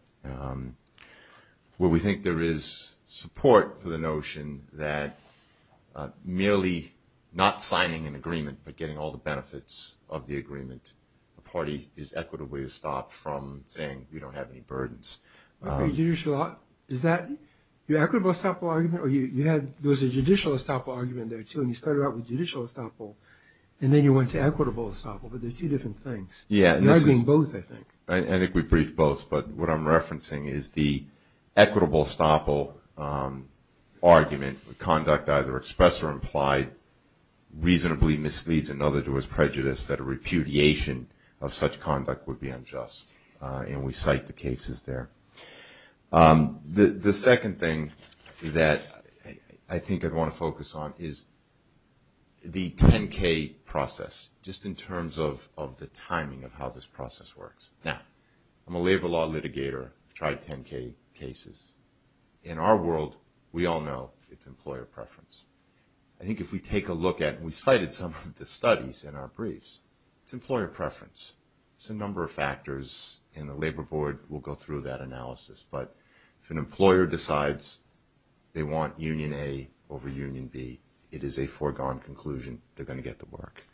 where we think there is support for the notion that merely not signing an agreement but getting all the benefits of the agreement, the party is equitably estopped from saying we don't have any burdens. Is that the equitable estoppel argument? There was a judicial estoppel argument there, too, and you started out with judicial estoppel and then you went to equitable estoppel, but they're two different things. You're arguing both, I think. I think we briefed both, but what I'm referencing is the equitable estoppel argument, the conduct either expressed or implied reasonably misleads another to his prejudice that a repudiation of such conduct would be unjust, and we cite the cases there. The second thing that I think I want to focus on is the 10-K process, just in terms of the timing of how this process works. Now, I'm a labor law litigator. I've tried 10-K cases. In our world, we all know it's employer preference. I think if we take a look at, and we cited some of the studies in our briefs, it's employer preference. It's a number of factors, and the Labor Board will go through that analysis, but if an employer decides they want Union A over Union B, it is a foregone conclusion they're going to get the work.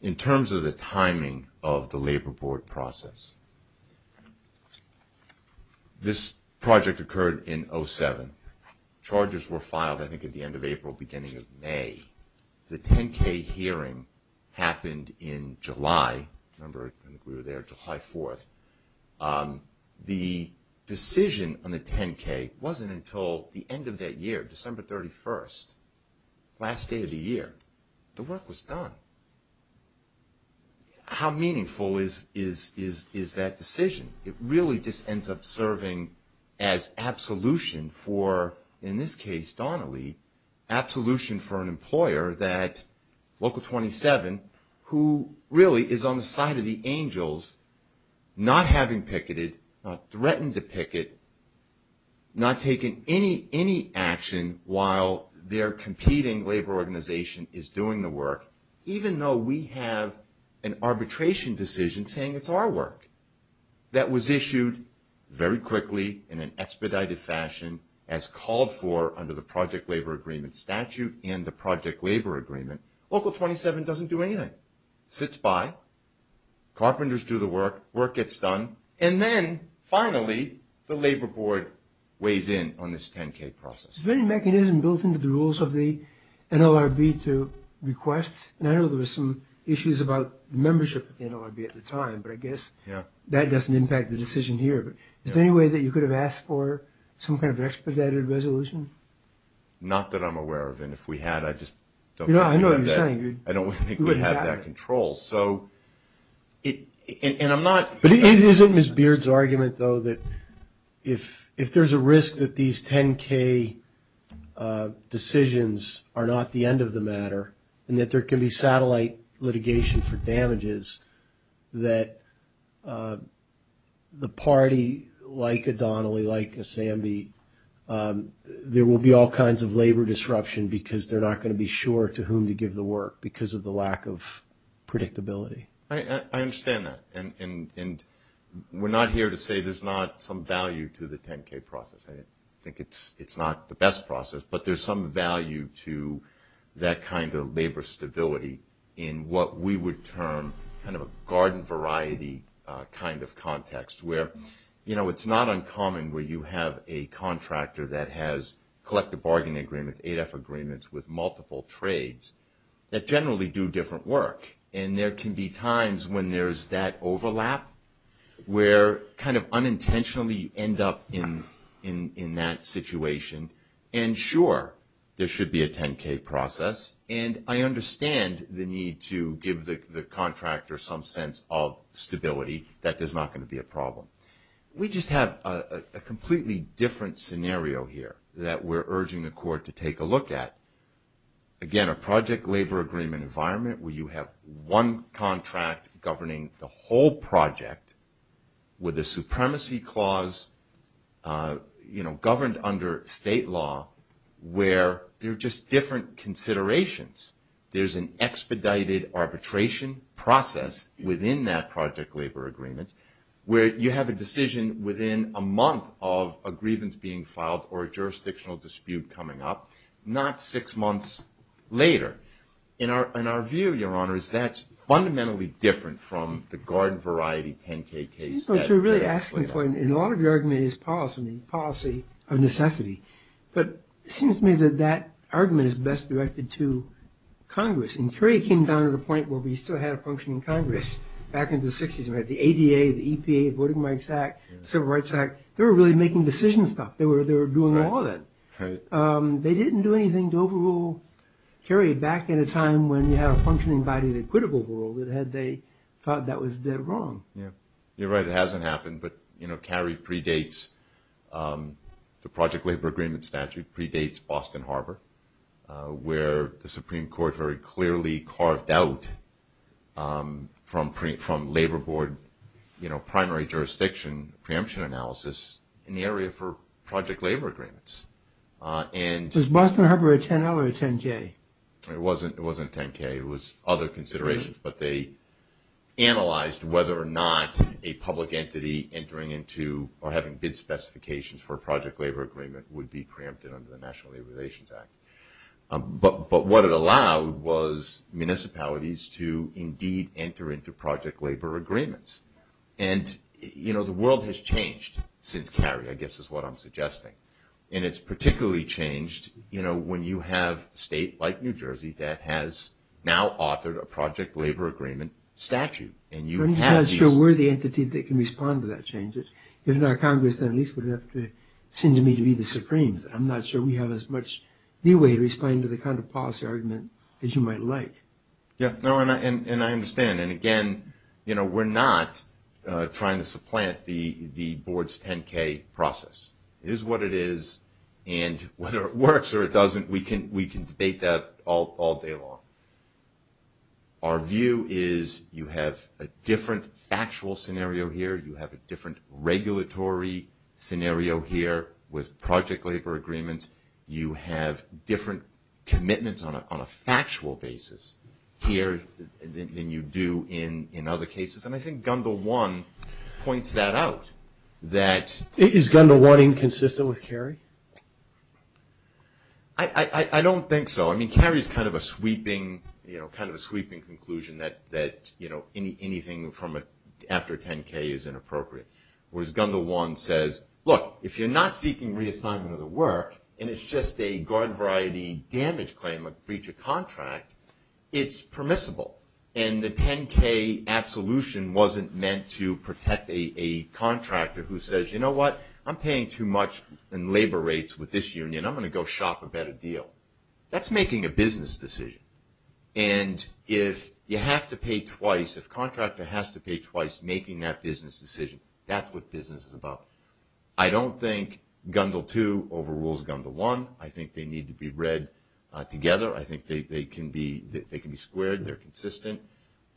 In terms of the timing of the Labor Board process, this project occurred in 07. Charges were filed, I think, at the end of April, beginning of May. The 10-K hearing happened in July. Remember, we were there July 4th. The decision on the 10-K wasn't until the end of that year, December 31st, last day of the year, the work was done. How meaningful is that decision? It really just ends up serving as absolution for, in this case, Donnelly, absolution for an employer that, Local 27, who really is on the side of the angels, not having picketed, not threatened to picket, not taking any action while their competing labor organization is doing the work, even though we have an arbitration decision saying it's our work, that was issued very quickly in an expedited fashion, as called for under the Project Labor Agreement statute and the Project Labor Agreement. Local 27 doesn't do anything. Sits by, carpenters do the work, work gets done, and then, finally, the Labor Board weighs in on this 10-K process. Is there any mechanism built into the rules of the NLRB to request? I know there were some issues about membership of the NLRB at the time, but I guess that doesn't impact the decision here. Is there any way that you could have asked for some kind of expedited resolution? Not that I'm aware of, and if we had, I just don't think we would have that. I know what you're saying. I don't think we would have that control. Isn't Ms. Beard's argument, though, that if there's a risk that these 10-K decisions are not the end of the matter and that there can be satellite litigation for damages, that the party, like O'Donnelly, like Asambi, there will be all kinds of labor disruption because they're not going to be sure to whom to give the work because of the lack of prediction. I understand that, and we're not here to say there's not some value to the 10-K process. I think it's not the best process, but there's some value to that kind of labor stability in what we would term kind of a garden variety kind of context where it's not uncommon where you have a contractor that has collective bargaining agreements, AEDF agreements with multiple trades that generally do different work, and there can be times when there's that overlap where kind of unintentionally end up in that situation. And sure, there should be a 10-K process, and I understand the need to give the contractor some sense of stability that there's not going to be a problem. We just have a completely different scenario here that we're urging the court to take a look at. Again, a project labor agreement environment where you have one contract governing the whole project with a supremacy clause governed under state law where there are just different considerations. There's an expedited arbitration process within that project labor agreement where you have a decision within a month of a grievance being filed or a jurisdictional dispute coming up, not six months later. And our view, Your Honor, is that's fundamentally different from the garden variety 10-K case. I think what you're really asking for in a lot of your argument is policy, policy of necessity. But it seems to me that that argument is best directed to Congress, and Frey came down to the point where we still had a function in Congress back in the 60s. We had the ADA, the EPA, Voting Rights Act, Civil Rights Act. They were really making decision stuff. They were doing all of it. They didn't do anything to overrule Kerry back in a time when you had a functioning body that could have overruled it had they thought that was wrong. You're right. It hasn't happened. But Kerry predates the project labor agreement statute, predates Boston Harbor, where the Supreme Court very clearly carved out from labor board primary jurisdiction preemption analysis in the area for project labor agreements. Was Boston Harbor a 10-L or a 10-J? It wasn't a 10-K. It was other considerations. But they analyzed whether or not a public entity entering into or having bid specifications for a project labor agreement would be preempted under the National Labor Relations Act. But what it allowed was municipalities to indeed enter into project labor agreements. And, you know, the world has changed since Kerry, I guess is what I'm suggesting. And it's particularly changed, you know, when you have a state like New Jersey that has now authored a project labor agreement statute. And you have these. I'm not sure we're the entity that can respond to that change. If it were our Congress, then at least we'd have to send them in to be the Supremes. I'm not sure we have as much leeway to respond to the kind of policy argument that you might like. Yeah, no, and I understand. And, again, you know, we're not trying to supplant the board's 10-K process. It is what it is. And whether it works or it doesn't, we can debate that all day long. Our view is you have a different factual scenario here. You have a different regulatory scenario here with project labor agreements. You have different commitments on a factual basis here than you do in other cases. And I think Gundel 1 points that out, that. Is Gundel 1 inconsistent with Kerry? I don't think so. I mean, Kerry's kind of a sweeping, you know, kind of a sweeping conclusion that, you know, anything after 10-K is inappropriate. Whereas Gundel 1 says, look, if you're not seeking reassignment of the work and it's just a garden variety damage claim of breach of contract, it's permissible. And the 10-K absolution wasn't meant to protect a contractor who says, you know what, I'm paying too much in labor rates with this union. I'm going to go shop a better deal. That's making a business decision. And if you have to pay twice, if a contractor has to pay twice making that business decision, that's what business is about. I don't think Gundel 2 overrules Gundel 1. I think they need to be read together. I think they can be squared. They're consistent.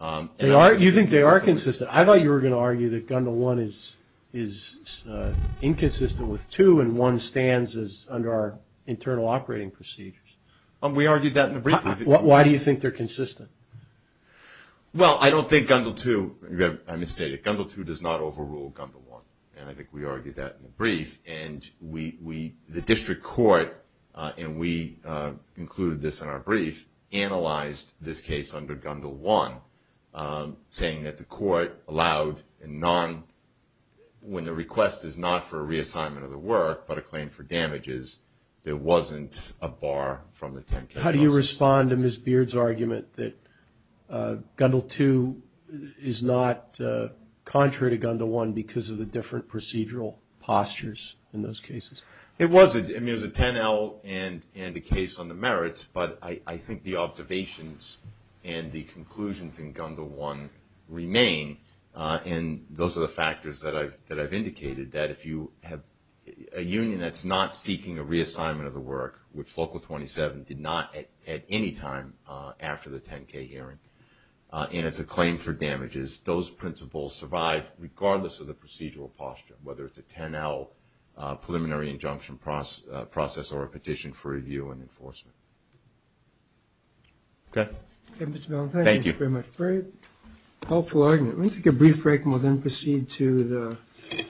You think they are consistent? I thought you were going to argue that Gundel 1 is inconsistent with 2 and 1 stands under our internal operating procedures. We argued that in a briefing. Why do you think they're consistent? Well, I don't think Gundel 2, I misstated, Gundel 2 does not overrule Gundel 1. And I think we argued that in the brief. And the district court, and we included this in our brief, analyzed this case under Gundel 1, saying that the court allowed a non, when the request is not for a reassignment of the work, but a claim for damages, there wasn't a bar from the 10-K. How do you respond to Ms. Beard's argument that Gundel 2 is not contrary to Gundel 1 because of the different procedural postures in those cases? It wasn't. I mean, there's a 10-L and a case on the merits, but I think the observations and the conclusions in Gundel 1 remain. And those are the factors that I've indicated, that if you have a union that's not seeking a reassignment of the work, which Local 27 did not at any time after the 10-K hearing, and it's a claim for damages, those principles survive regardless of the procedural posture, whether it's a 10-L preliminary injunction process or a petition for review and enforcement. Okay. Thank you very much. Very helpful argument. Let me take a brief break and we'll then proceed to the.